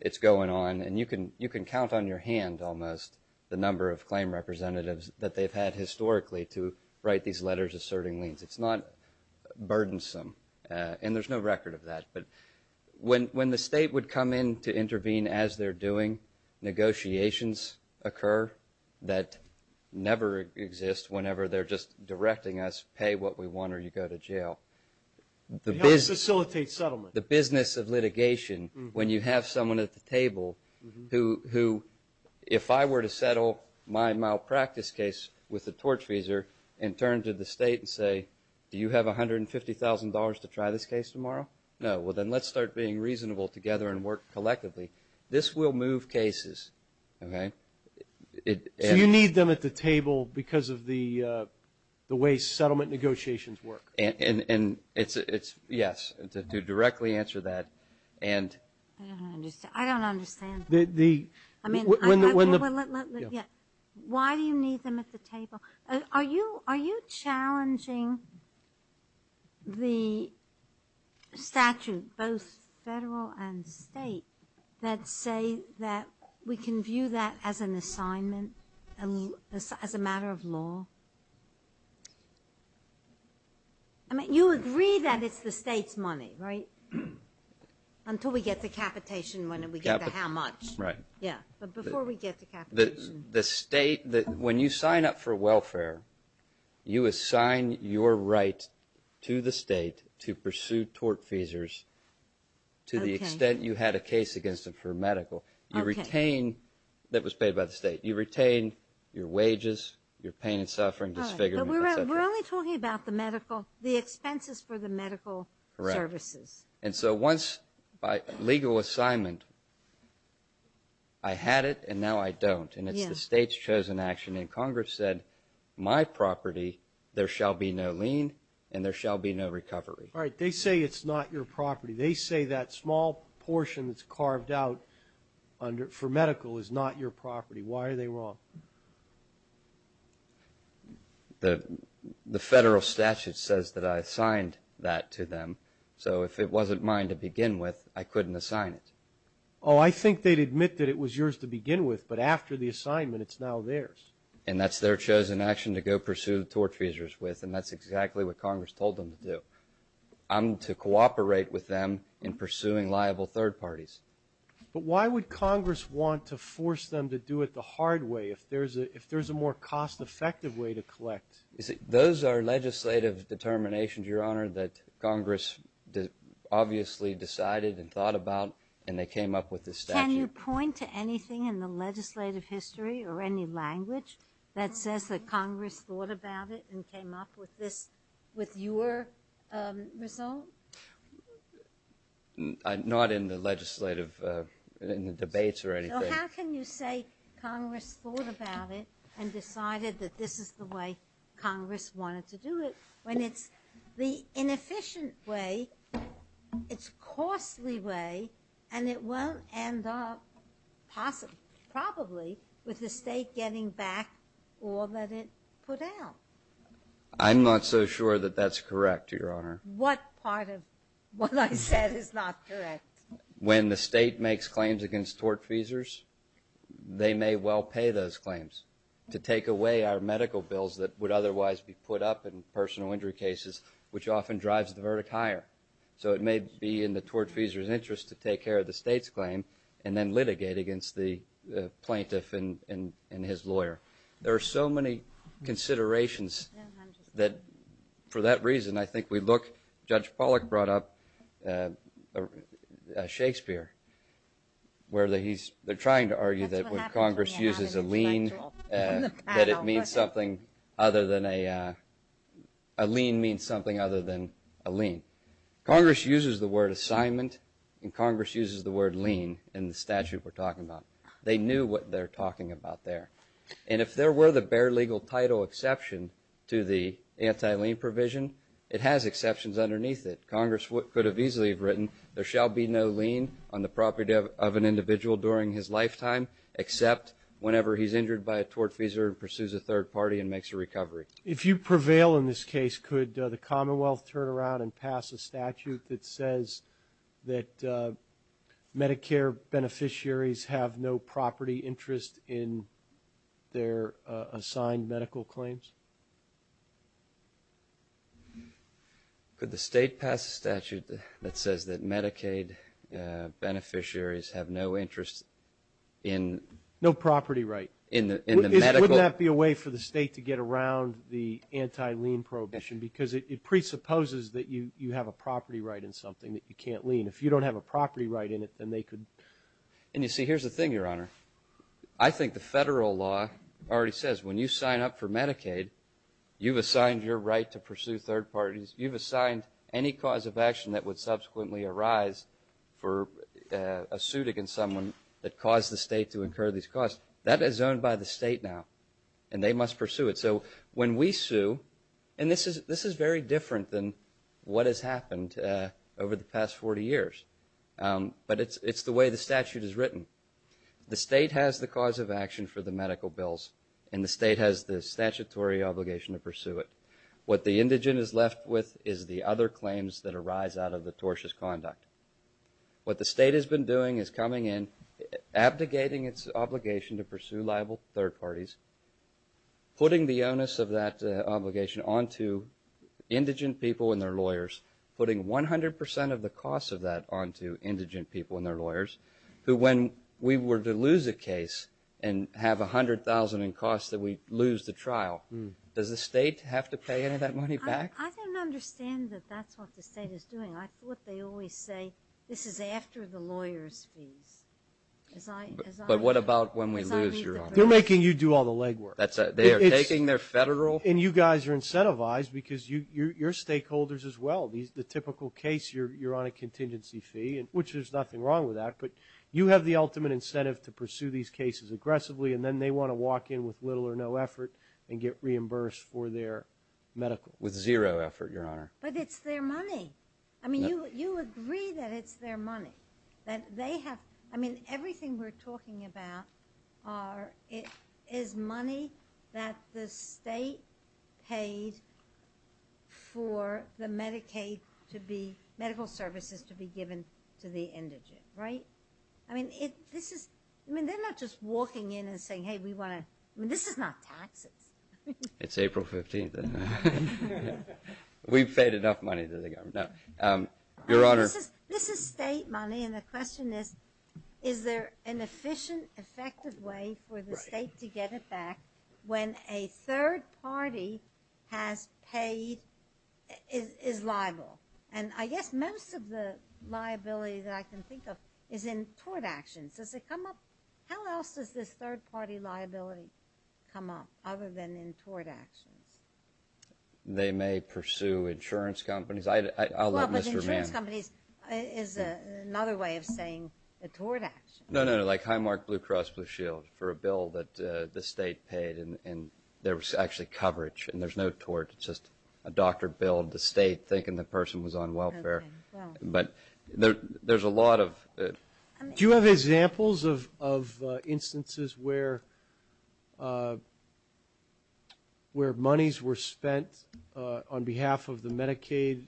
it's going on and you can count on your hand almost the number of claim representatives that they've had historically to write these letters asserting leans. It's not burdensome and there's no record of that. But when the state would come in to intervene as they're doing, negotiations occur that never exist whenever they're just directing us, pay what we want or you go to jail. It helps facilitate settlement. The business of litigation, when you have someone at the table who if I were to settle my malpractice case with a torch freezer and turn to the state and say, do you have $150,000 to try this case tomorrow? No, well then let's start being reasonable together and work collectively. This will move cases, okay? So you need them at the table because of the way settlement negotiations work. And it's, yes, to directly answer that and... I don't understand. Why do you need them at the table? Are you challenging the statute, both federal and state, that say that we can view that as an assignment, as a matter of law? I mean, you agree that it's the state's money, right? Until we get the capitation, when we get the how much. Right. Yeah, but before we get the capitation. The state, when you sign up for welfare, you assign your right to the state to pursue torch freezers to the extent you had a case against it for medical. You retain, that was paid by the state. You retain your wages, your pain and suffering, disfigurement, et cetera. We're only talking about the medical. The expenses for the medical services. And so once by legal assignment, I had it and now I don't. And it's the state's chosen action. And Congress said, my property, there shall be no lien and there shall be no recovery. All right, they say it's not your property. They say that small portion that's carved out for medical is not your property. Why are they wrong? The federal statute says that I assigned that to them. So if it wasn't mine to begin with, I couldn't assign it. Oh, I think they'd admit that it was yours to begin with, but after the assignment, it's now theirs. And that's their chosen action to go pursue the torch freezers with. And that's exactly what Congress told them to do. I'm to cooperate with them in pursuing liable third parties. But why would Congress want to force them to do it the hard way, if there's a more cost effective way to collect? Those are legislative determinations, Your Honor, that Congress obviously decided and thought about and they came up with this statute. Can you point to anything in the legislative history or any language that says that Congress thought about it and came up with this, with your result? Not in the legislative, in the debates or anything. How can you say Congress thought about it and decided that this is the way Congress wanted to do it, when it's the inefficient way, it's costly way, and it won't end up possibly, probably, with the state getting back all that it put out? I'm not so sure that that's correct, Your Honor. What part of what I said is not correct? When the state makes claims against tortfeasors, they may well pay those claims to take away our medical bills that would otherwise be put up in personal injury cases, which often drives the verdict higher. So it may be in the tortfeasor's interest to take care of the state's claim and then litigate against the plaintiff and his lawyer. There are so many considerations that, for that reason, I think we look, Judge Pollack brought up, Shakespeare, where they're trying to argue that when Congress uses a lien, that a lien means something other than a lien. Congress uses the word assignment, and Congress uses the word lien in the statute we're talking about. They knew what they're talking about there. And if there were the bare legal title exception to the anti-lien provision, it has exceptions underneath it. Congress could have easily have written, there shall be no lien on the property of an individual during his lifetime except whenever he's injured by a tortfeasor and pursues a third party and makes a recovery. If you prevail in this case, could the Commonwealth turn around and pass a statute that says that Medicare beneficiaries have no property interest in their assigned medical claims? Could the state pass a statute that says that Medicaid beneficiaries have no interest in... No property right. In the medical... Wouldn't that be a way for the state to get around the anti-lien prohibition because it presupposes that you have a property right in something that you can't lien. If you don't have a property right in it, then they could... And you see, here's the thing, Your Honor. I think the federal law already says, when you sign up for Medicaid, you've assigned your right to pursue third parties. You've assigned any cause of action that would subsequently arise for a suit against someone that caused the state to incur these costs. That is owned by the state now, and they must pursue it. So when we sue, and this is very different than what has happened over the past 40 years, but it's the way the statute is written. The state has the cause of action for the medical bills, and the state has the statutory obligation to pursue it. What the indigent is left with is the other claims that arise out of the tortious conduct. What the state has been doing is coming in, abdicating its obligation to pursue liable third parties, putting the onus of that obligation onto indigent people and their lawyers, putting 100% of the costs of that onto indigent people and their lawyers, who when we were to lose a case and have 100,000 in costs that we lose the trial, does the state have to pay any of that money back? I don't understand that that's what the state is doing. I thought they always say, this is after the lawyer's fees. But what about when we lose, Your Honor? They're making you do all the legwork. They are taking their federal? And you guys are incentivized because you're stakeholders as well. The typical case, you're on a contingency fee, which there's nothing wrong with that, but you have the ultimate incentive to pursue these cases aggressively, and then they want to walk in with little or no effort and get reimbursed for their medical. With zero effort, Your Honor. But it's their money. I mean, you agree that it's their money, that they have, I mean, everything we're talking about is money that the state paid for the Medicaid to be, medical services to be given to the indigent, right? I mean, this is, I mean, they're not just walking in and saying, hey, we want to, I mean, this is not taxes. It's April 15th, and we've paid enough money to the government. Your Honor. This is state money, and the question is, is there an efficient, effective way for the state to get it back when a third party has paid, is liable? And I guess most of the liability that I can think of is in tort actions. Does it come up? How else does this third party liability come up other than in tort actions? They may pursue insurance companies. I'll let Mr. Mann. Well, but insurance companies is another way of saying a tort action. No, no, like Highmark, Blue Cross, Blue Shield for a bill that the state paid, and there was actually coverage, and there's no tort. It's just a doctor billed the state thinking the person was on welfare. But there's a lot of... Do you have examples of instances where where monies were spent on behalf of the Medicaid,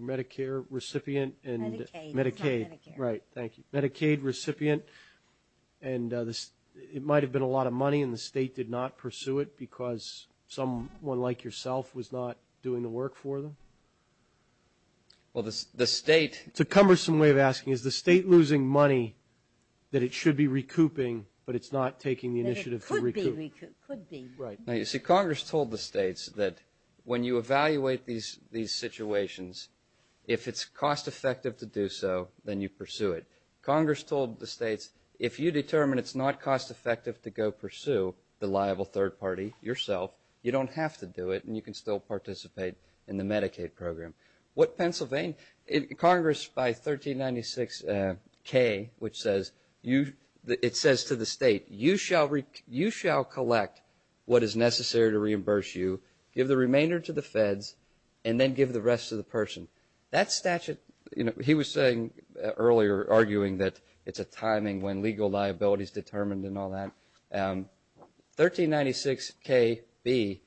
Medicare recipient, and Medicaid. Right, thank you. Medicaid recipient, and it might have been a lot of money, and the state did not pursue it because someone like yourself was not doing the work for them? Well, the state... It's a cumbersome way of asking. Is the state losing money that it should be recouping, but it's not taking the initiative to recoup? It could be. Right, now you see, Congress told the states that when you evaluate these situations, if it's cost-effective to do so, then you pursue it. Congress told the states, if you determine it's not cost-effective to go pursue the liable third party yourself, you don't have to do it, and you can still participate in the Medicaid program. What Pennsylvania... Congress, by 1396K, which says, it says to the state, you shall collect what is necessary to reimburse you, give the remainder to the feds, and then give the rest to the person. That statute, he was saying earlier, arguing that it's a timing when legal liability is determined and all that. 1396KB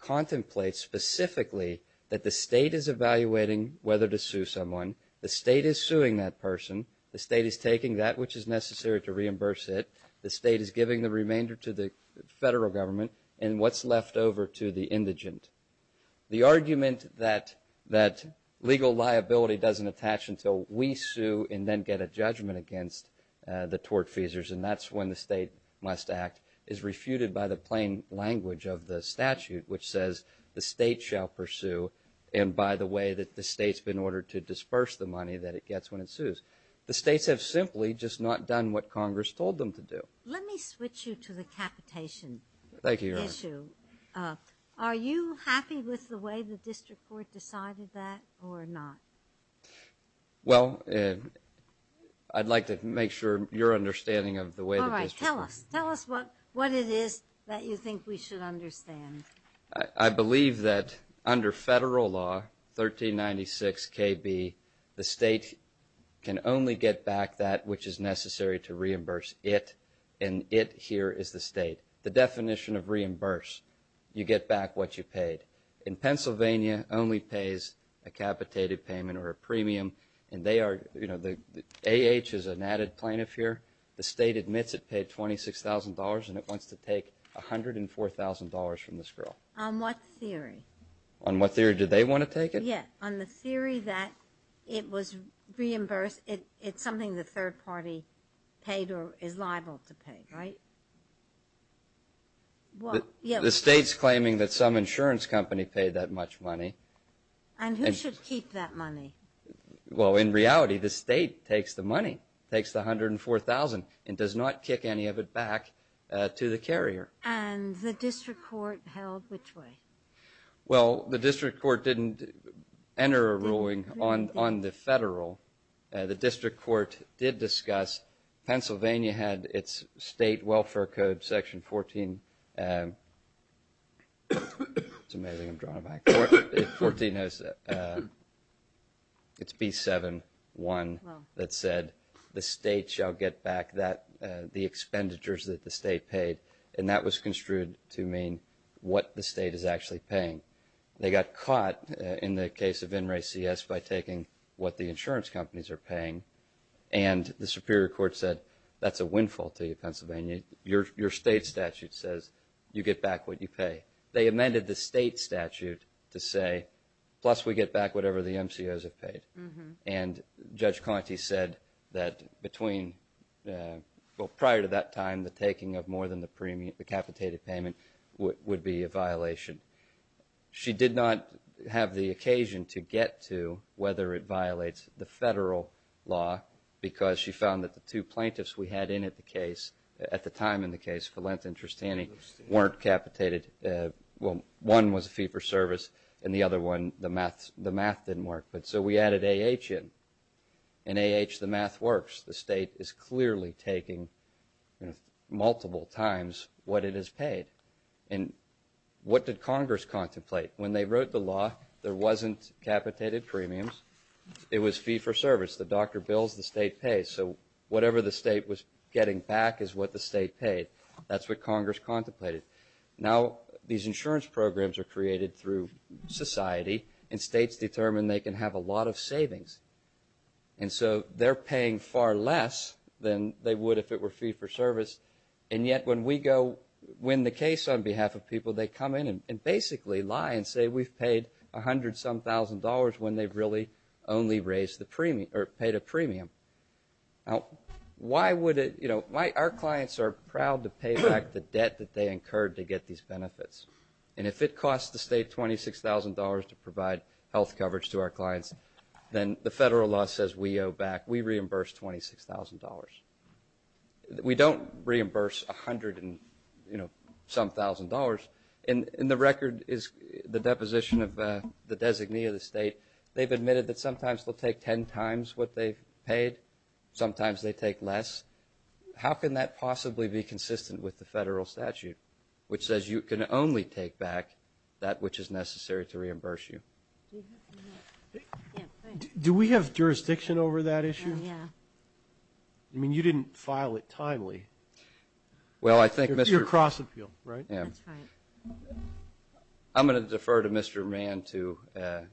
contemplates specifically that the state is evaluating whether to sue someone, the state is suing that person, the state is taking that which is necessary to reimburse it, the state is giving the remainder to the federal government, and what's left over to the indigent. The argument that legal liability doesn't attach until we sue and then get a judgment against the tortfeasors, and that's when the state must act, is refuted by the plain language of the statute, which says the state shall pursue, and by the way that the state's been ordered to disperse the money that it gets when it sues. The states have simply just not done what Congress told them to do. Let me switch you to the capitation issue. Thank you, Your Honor. Are you happy with the way the district court decided that or not? Well, I'd like to make sure your understanding of the way the district court. All right, tell us. Tell us what it is that you think we should understand. I believe that under federal law, 1396KB, the state can only get back that which is necessary to reimburse it, and it here is the state. The definition of reimburse, you get back what you paid. In Pennsylvania, only pays a capitated payment or a premium, and they are, you know, the AH is an added plaintiff here. The state admits it paid $26,000, and it wants to take $104,000 from this girl. On what theory? On what theory? Do they want to take it? Yeah, on the theory that it was reimbursed. It's something the third party paid or is liable to pay, right? Well, yeah. The state's claiming that some insurance company paid that much money. And who should keep that money? Well, in reality, the state takes the money, takes the 104,000, and does not kick any of it back to the carrier. And the district court held which way? Well, the district court didn't enter a ruling on the federal. The district court did discuss. Pennsylvania had its state welfare code section 14. It's amazing I'm drawing back. 14 has, it's B7-1 that said, the state shall get back the expenditures that the state paid. And that was construed to mean what the state is actually paying. They got caught in the case of In Re CS by taking what the insurance companies are paying. And the superior court said, that's a windfall to you, Pennsylvania. Your state statute says you get back what you pay. They amended the state statute to say, plus we get back whatever the MCOs have paid. And Judge Conte said that between, well, prior to that time, the taking of more than the capitated payment would be a violation. She did not have the occasion to get to whether it violates the federal law because she found that the two plaintiffs we had in at the case, at the time in the case, Valentin Tristani weren't capitated. Well, one was a fee for service and the other one, the math didn't work. But so we added AH in. In AH, the math works. The state is clearly taking multiple times what it has paid. And what did Congress contemplate? When they wrote the law, there wasn't capitated premiums. It was fee for service. The doctor bills, the state pays. So whatever the state was getting back is what the state paid. That's what Congress contemplated. Now, these insurance programs are created through society and states determine they can have a lot of savings. And so they're paying far less than they would if it were fee for service. And yet when we go win the case on behalf of people, they come in and basically lie and say we've paid a hundred some thousand dollars when they've really only raised the premium, or paid a premium. Why would it, you know, our clients are proud to pay back the debt that they incurred to get these benefits. And if it costs the state $26,000 to provide health coverage to our clients, then the federal law says we owe back, we reimburse $26,000. We don't reimburse a hundred and, you know, some thousand dollars. In the record is the deposition of the designee of the state. They've admitted that sometimes they'll take 10 times what they've paid. Sometimes they take less. How can that possibly be consistent with the federal statute? Which says you can only take back that which is necessary to reimburse you. Do we have jurisdiction over that issue? Yeah. I mean, you didn't file it timely. Well, I think Mr. Your cross appeal, right? Yeah. That's right. I'm gonna defer to Mr. Mann to,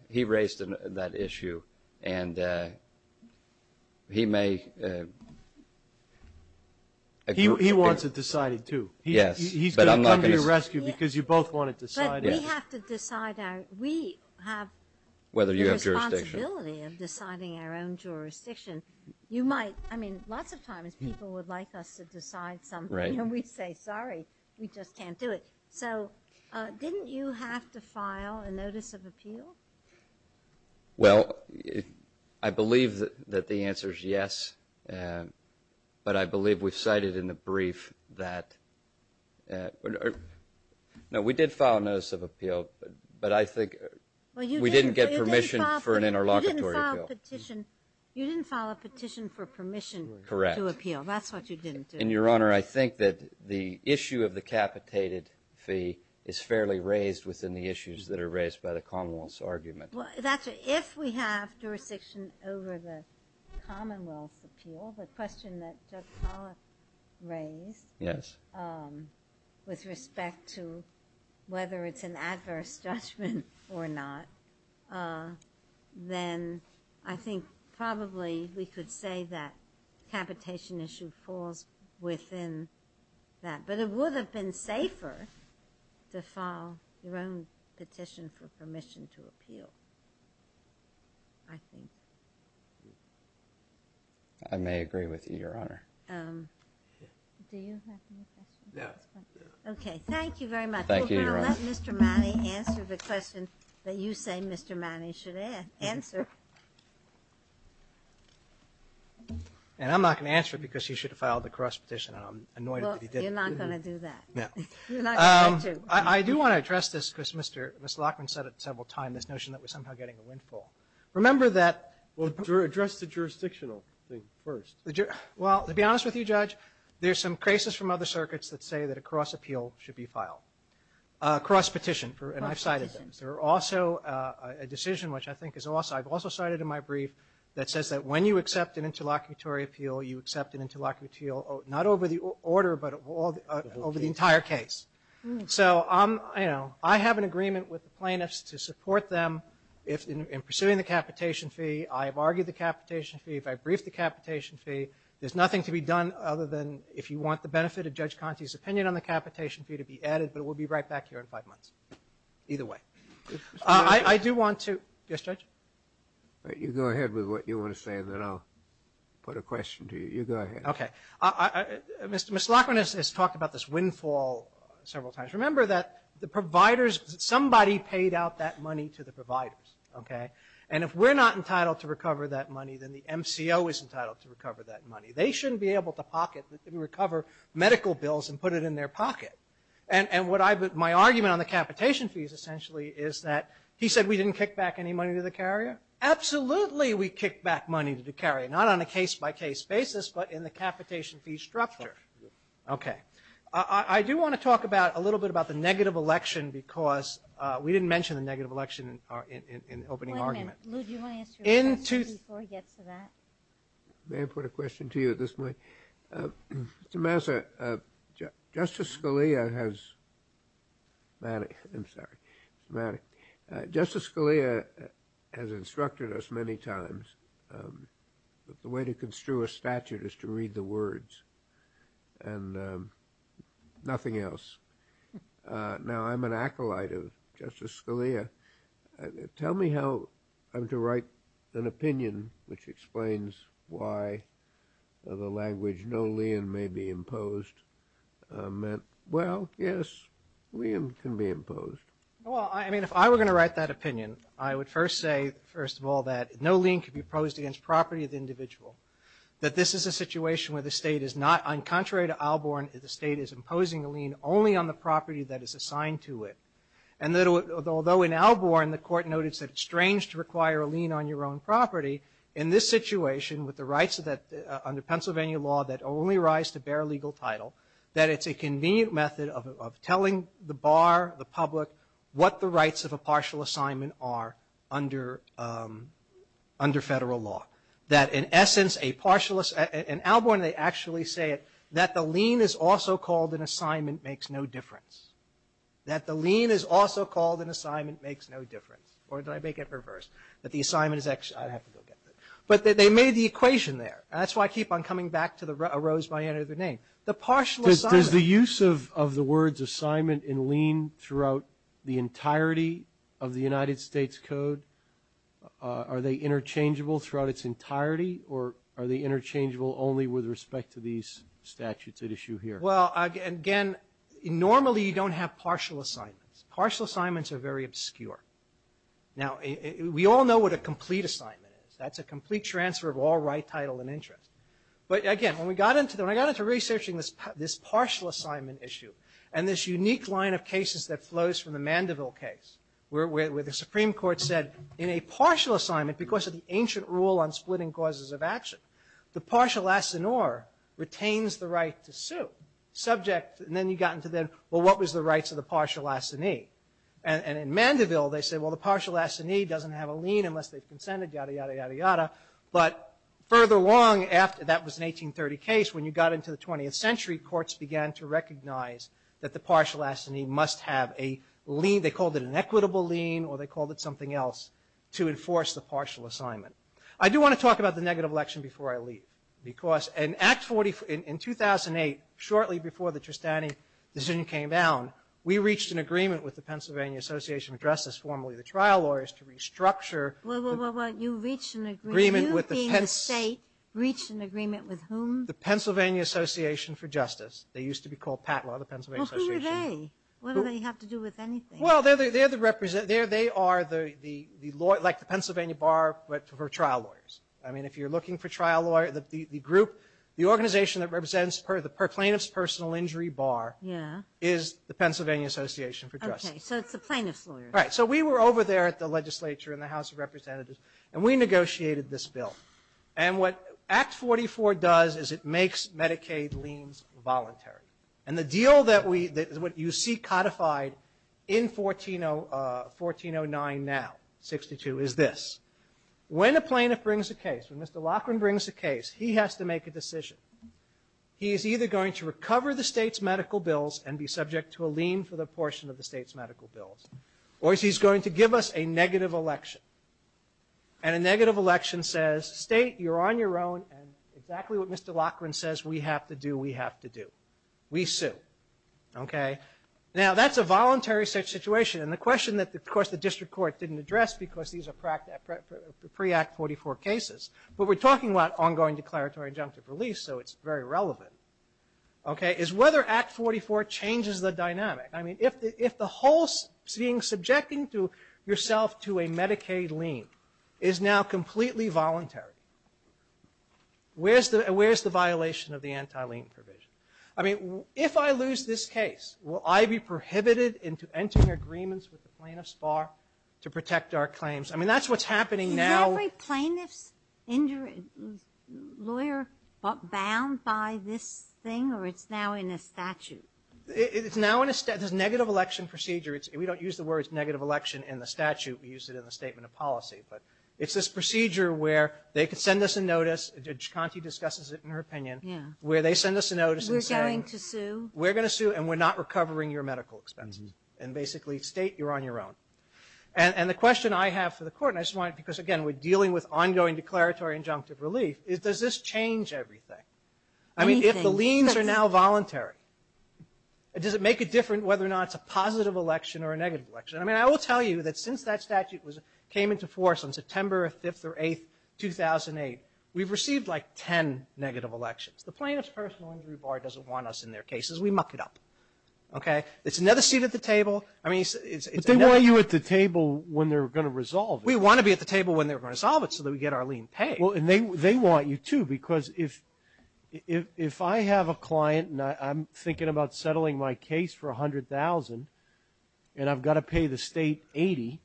he raised that issue. And he may. He wants it decided too. Yes. He's gonna come to your rescue because you both want it decided. But we have to decide our, we have the responsibility of deciding our own jurisdiction. You might, I mean, lots of times people would like us to decide something and we'd say, sorry, we just can't do it. So didn't you have to file a notice of appeal? Well, I believe that the answer is yes. But I believe we've cited in the brief that, no, we did file a notice of appeal, but I think we didn't get permission for an interlocutory appeal. You didn't file a petition for permission to appeal. That's what you didn't do. And Your Honor, I think that the issue of the capitated fee is fairly raised within the issues that are raised by the Commonwealth's argument. Well, that's if we have jurisdiction over the Commonwealth's appeal, the question that Judge Pollack raised with respect to whether it's an adverse judgment or not, then I think probably we could say that capitation issue falls within that. But it would have been safer to file your own petition for permission to appeal. I think. I may agree with you, Your Honor. Do you have any questions? Okay, thank you very much. Thank you, Your Honor. Well, now let Mr. Matty answer the question that you say Mr. Matty should answer. And I'm not going to answer it because he should have filed a cross petition and I'm annoyed that he didn't. Well, you're not going to do that. No. You're not going to. I do want to address this because Mr. Lockman said it several times, this notion that we're somehow getting a windfall. Remember that. Well, address the jurisdictional thing first. Well, to be honest with you, Judge, there's some cases from other circuits that say that a cross appeal should be filed, a cross petition, and I've cited them. There are also a decision which I think is also, I've also cited in my brief that says that when you accept an interlocutory appeal, you accept an interlocutorial, not over the order, but over the entire case. So I have an agreement with the plaintiffs to support them in pursuing the capitation fee. I have argued the capitation fee. If I brief the capitation fee, there's nothing to be done other than if you want the benefit of Judge Conte's opinion on the capitation fee to be added, but it will be right back here in five months. Either way. I do want to, yes, Judge? You go ahead with what you want to say and then I'll put a question to you. You go ahead. Okay. Mr. Lockman has talked about this windfall several times. Remember that the providers, somebody paid out that money to the providers, okay? And if we're not entitled to recover that money, then the MCO is entitled to recover that money. They shouldn't be able to pocket, recover medical bills and put it in their pocket. And my argument on the capitation fees essentially is that, he said we didn't kick back any money to the carrier? Absolutely we kicked back money to the carrier. Not on a case by case basis, but in the capitation fee structure. Okay. I do want to talk a little bit about the negative election because we didn't mention the negative election in the opening argument. Lou, do you want to ask your question before we get to that? May I put a question to you at this point? Okay. Mr. Massa, Justice Scalia has, I'm sorry, Mr. Manning. Justice Scalia has instructed us many times that the way to construe a statute is to read the words and nothing else. Now I'm an acolyte of Justice Scalia. Tell me how I'm to write an opinion which explains why the language no lien may be imposed meant, well, yes, lien can be imposed. Well, I mean, if I were going to write that opinion, I would first say, first of all, that no lien could be imposed against property of the individual. That this is a situation where the state is not, on contrary to Alborn, the state is imposing a lien only on the property that is assigned to it. And that although in Alborn the court noted that it's strange to require a lien on your own property, in this situation with the rights under Pennsylvania law that only rise to bear legal title, that it's a convenient method of telling the bar, the public, what the rights of a partial assignment are under federal law. That in essence, in Alborn they actually say that the lien is also called an assignment makes no difference. That the lien is also called an assignment makes no difference. Or did I make it reverse? That the assignment is actually, I have to go get that. But they made the equation there. And that's why I keep on coming back to a rose by any other name. The partial assignment. Does the use of the words assignment and lien throughout the entirety of the United States Code, are they interchangeable throughout its entirety? Or are they interchangeable only with respect to these statutes at issue here? Well, again, normally you don't have partial assignments. Partial assignments are very obscure. Now, we all know what a complete assignment is. That's a complete transfer of all right, title, and interest. But again, when I got into researching this partial assignment issue, and this unique line of cases that flows from the Mandeville case, where the Supreme Court said, in a partial assignment, because of the ancient rule on splitting causes of action, the partial assignor retains the right to sue. Subject, and then you got into then, well, what was the rights of the partial assignee? And in Mandeville, they said, well, the partial assignee doesn't have a lien unless they've consented, yada, yada, yada, yada. But further along, after that was an 1830 case, when you got into the 20th century, courts began to recognize that the partial assignee must have a lien, they called it an equitable lien, or they called it something else, to enforce the partial assignment. I do want to talk about the negative election before I leave, because in 2008, shortly before the Tristani decision came down, we reached an agreement with the Pennsylvania Association of Justice, formerly the Trial Lawyers, to restructure the- Well, well, well, well, you reached an agreement, you being the state, reached an agreement with whom? The Pennsylvania Association for Justice. They used to be called PATLA, the Pennsylvania Association. Well, who are they? What do they have to do with anything? Well, they're the represent, they are the, like the Pennsylvania Bar for Trial Lawyers. I mean, if you're looking for trial lawyer, the group, the organization that represents plaintiff's personal injury bar is the Pennsylvania Association for Justice. Okay, so it's the plaintiff's lawyers. Right, so we were over there at the legislature in the House of Representatives, and we negotiated this bill. And what Act 44 does is it makes Medicaid liens voluntary. And the deal that we, that is what you see codified in 1409 now, 62, is this. When a plaintiff brings a case, when Mr. Loughran brings a case, he has to make a decision. He is either going to recover the state's medical bills and be subject to a lien for the portion of the state's medical bills, or he's going to give us a negative election. And a negative election says, state, you're on your own, and exactly what Mr. Loughran says, we have to do, we have to do. We sue, okay? Now, that's a voluntary situation, and the question that, of course, the district court didn't address because these are pre-Act 44 cases, but we're talking about ongoing declaratory injunctive release, so it's very relevant, okay, is whether Act 44 changes the dynamic. I mean, if the whole seeing, subjecting yourself to a Medicaid lien is now completely voluntary, where's the violation of the anti-lien provision? I mean, if I lose this case, will I be prohibited into entering agreements with the plaintiff's bar to protect our claims? I mean, that's what's happening now. Is every plaintiff's lawyer bound by this thing, or it's now in a statute? It's now in a, there's a negative election procedure. We don't use the words negative election in the statute. We use it in the statement of policy, but it's this procedure where they could send us a notice, Chikanti discusses it in her opinion, where they send us a notice and say, We're going to sue. We're gonna sue, and we're not recovering your medical expenses. And basically, state, you're on your own. And the question I have for the court, because again, we're dealing with ongoing declaratory injunctive relief, is does this change everything? I mean, if the liens are now voluntary, does it make a difference whether or not it's a positive election or a negative election? I mean, I will tell you that since that statute came into force on September 5th or 8th, 2008, we've received like 10 negative elections. The plaintiff's personal injury bar doesn't want us in their cases. We muck it up, okay? It's another seat at the table. I mean, it's- But they want you at the table when they're gonna resolve it. We wanna be at the table when they're gonna resolve it so that we get our lien paid. Well, and they want you too, because if I have a client and I'm thinking about settling my case for 100,000, and I've gotta pay the state 80,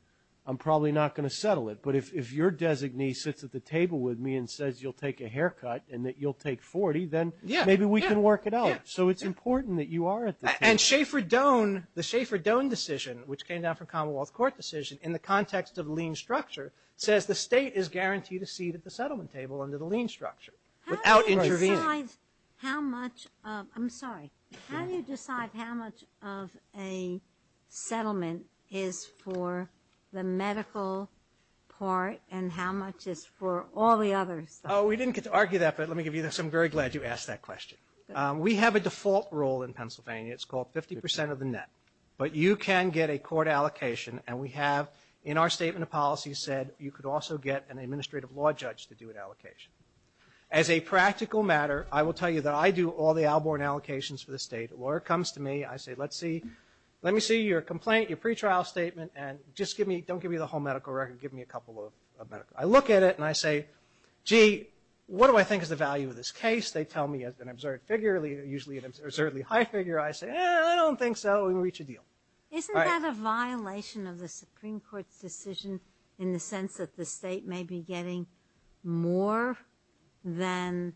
I'm probably not gonna settle it. But if your designee sits at the table with me and says you'll take a haircut, and that you'll take 40, then maybe we can work it out. So it's important that you are at the table. And Schaefer-Doan, the Schaefer-Doan decision, which came down from Commonwealth Court decision, in the context of lien structure, says the state is guaranteed a seat at the settlement table under the lien structure without intervening. How do you decide how much of, I'm sorry. How do you decide how much of a settlement is for the medical part and how much is for all the others? Oh, we didn't get to argue that, but let me give you this. I'm very glad you asked that question. We have a default rule in Pennsylvania. It's called 50% of the net. But you can get a court allocation, and we have, in our statement of policy, said you could also get an administrative law judge to do an allocation. As a practical matter, I will tell you that I do all the Alborn allocations for the state. A lawyer comes to me, I say let me see your complaint, your pretrial statement, and just give me, don't give me the whole medical record, give me a couple of medical. I look at it and I say, gee, what do I think is the value of this case? They tell me as an absurd figure, usually an absurdly high figure. I say, eh, I don't think so. We won't reach a deal. Isn't that a violation of the Supreme Court's decision in the sense that the state may be getting more than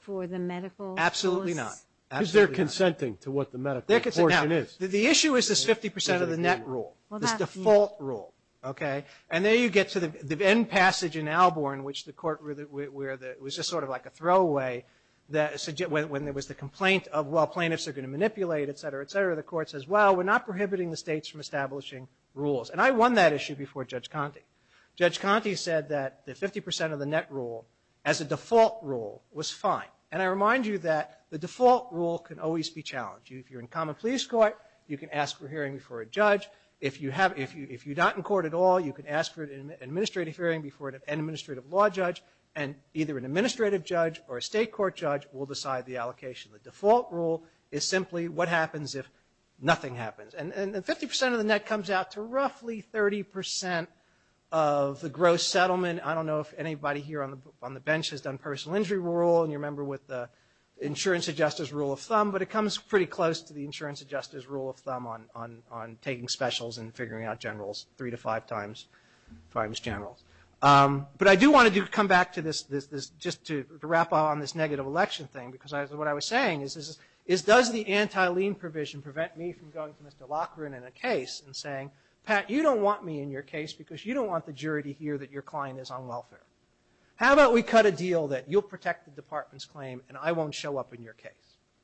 for the medical? Absolutely not. Absolutely not. Because they're consenting to what the medical portion is. The issue is this 50% of the net rule, this default rule, okay? And there you get to the end passage in Alborn, which the court, where it was just sort of like a throwaway, that when there was the complaint of, well, plaintiffs are gonna manipulate, et cetera, et cetera, the court says, well, we're not prohibiting the states from establishing rules. And I won that issue before Judge Conte. Judge Conte said that the 50% of the net rule as a default rule was fine. And I remind you that the default rule can always be challenged. If you're in common police court, you can ask for hearing before a judge. If you're not in court at all, you can ask for an administrative hearing before an administrative law judge, and either an administrative judge or a state court judge will decide the allocation. The default rule is simply what happens if nothing happens. And 50% of the net comes out to roughly 30% of the gross settlement. I don't know if anybody here on the bench has done personal injury rule, and you remember with the insurance adjuster's rule of thumb, but it comes pretty close to the insurance adjuster's rule of thumb on taking specials and figuring out generals three to five times generals. But I do want to come back to this, just to wrap up on this negative election thing, because what I was saying is, does the anti-lien provision prevent me from going to Mr. Loughran in a case and saying, Pat, you don't want me in your case because you don't want the jury to hear that your client is on welfare. How about we cut a deal that you'll protect the department's claim, and I won't show up in your case?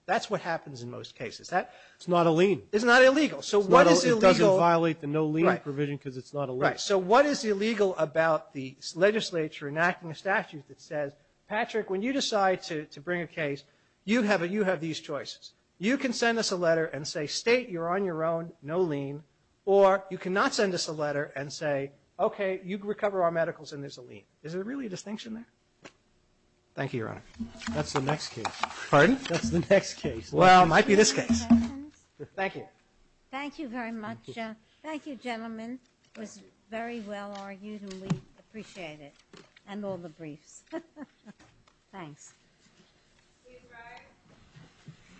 That's what happens in most cases. It's not a lien. It's not illegal. It doesn't violate the no lien provision because it's not illegal. So what is illegal about the legislature enacting a statute that says, Patrick, when you decide to bring a case, you have these choices. You can send us a letter and say, state you're on your own, no lien, or you cannot send us a letter and say, okay, you recover our medicals and there's a lien. Is there really a distinction there? Thank you, Your Honor. That's the next case. Pardon? That's the next case. Well, it might be this case. Thank you. Thank you very much. Thank you, gentlemen. It was very well argued and we appreciate it. And all the briefs. Thanks. Thank you, Greg.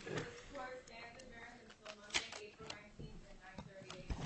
This court stands adjourned until Monday, April 19th at 9 38.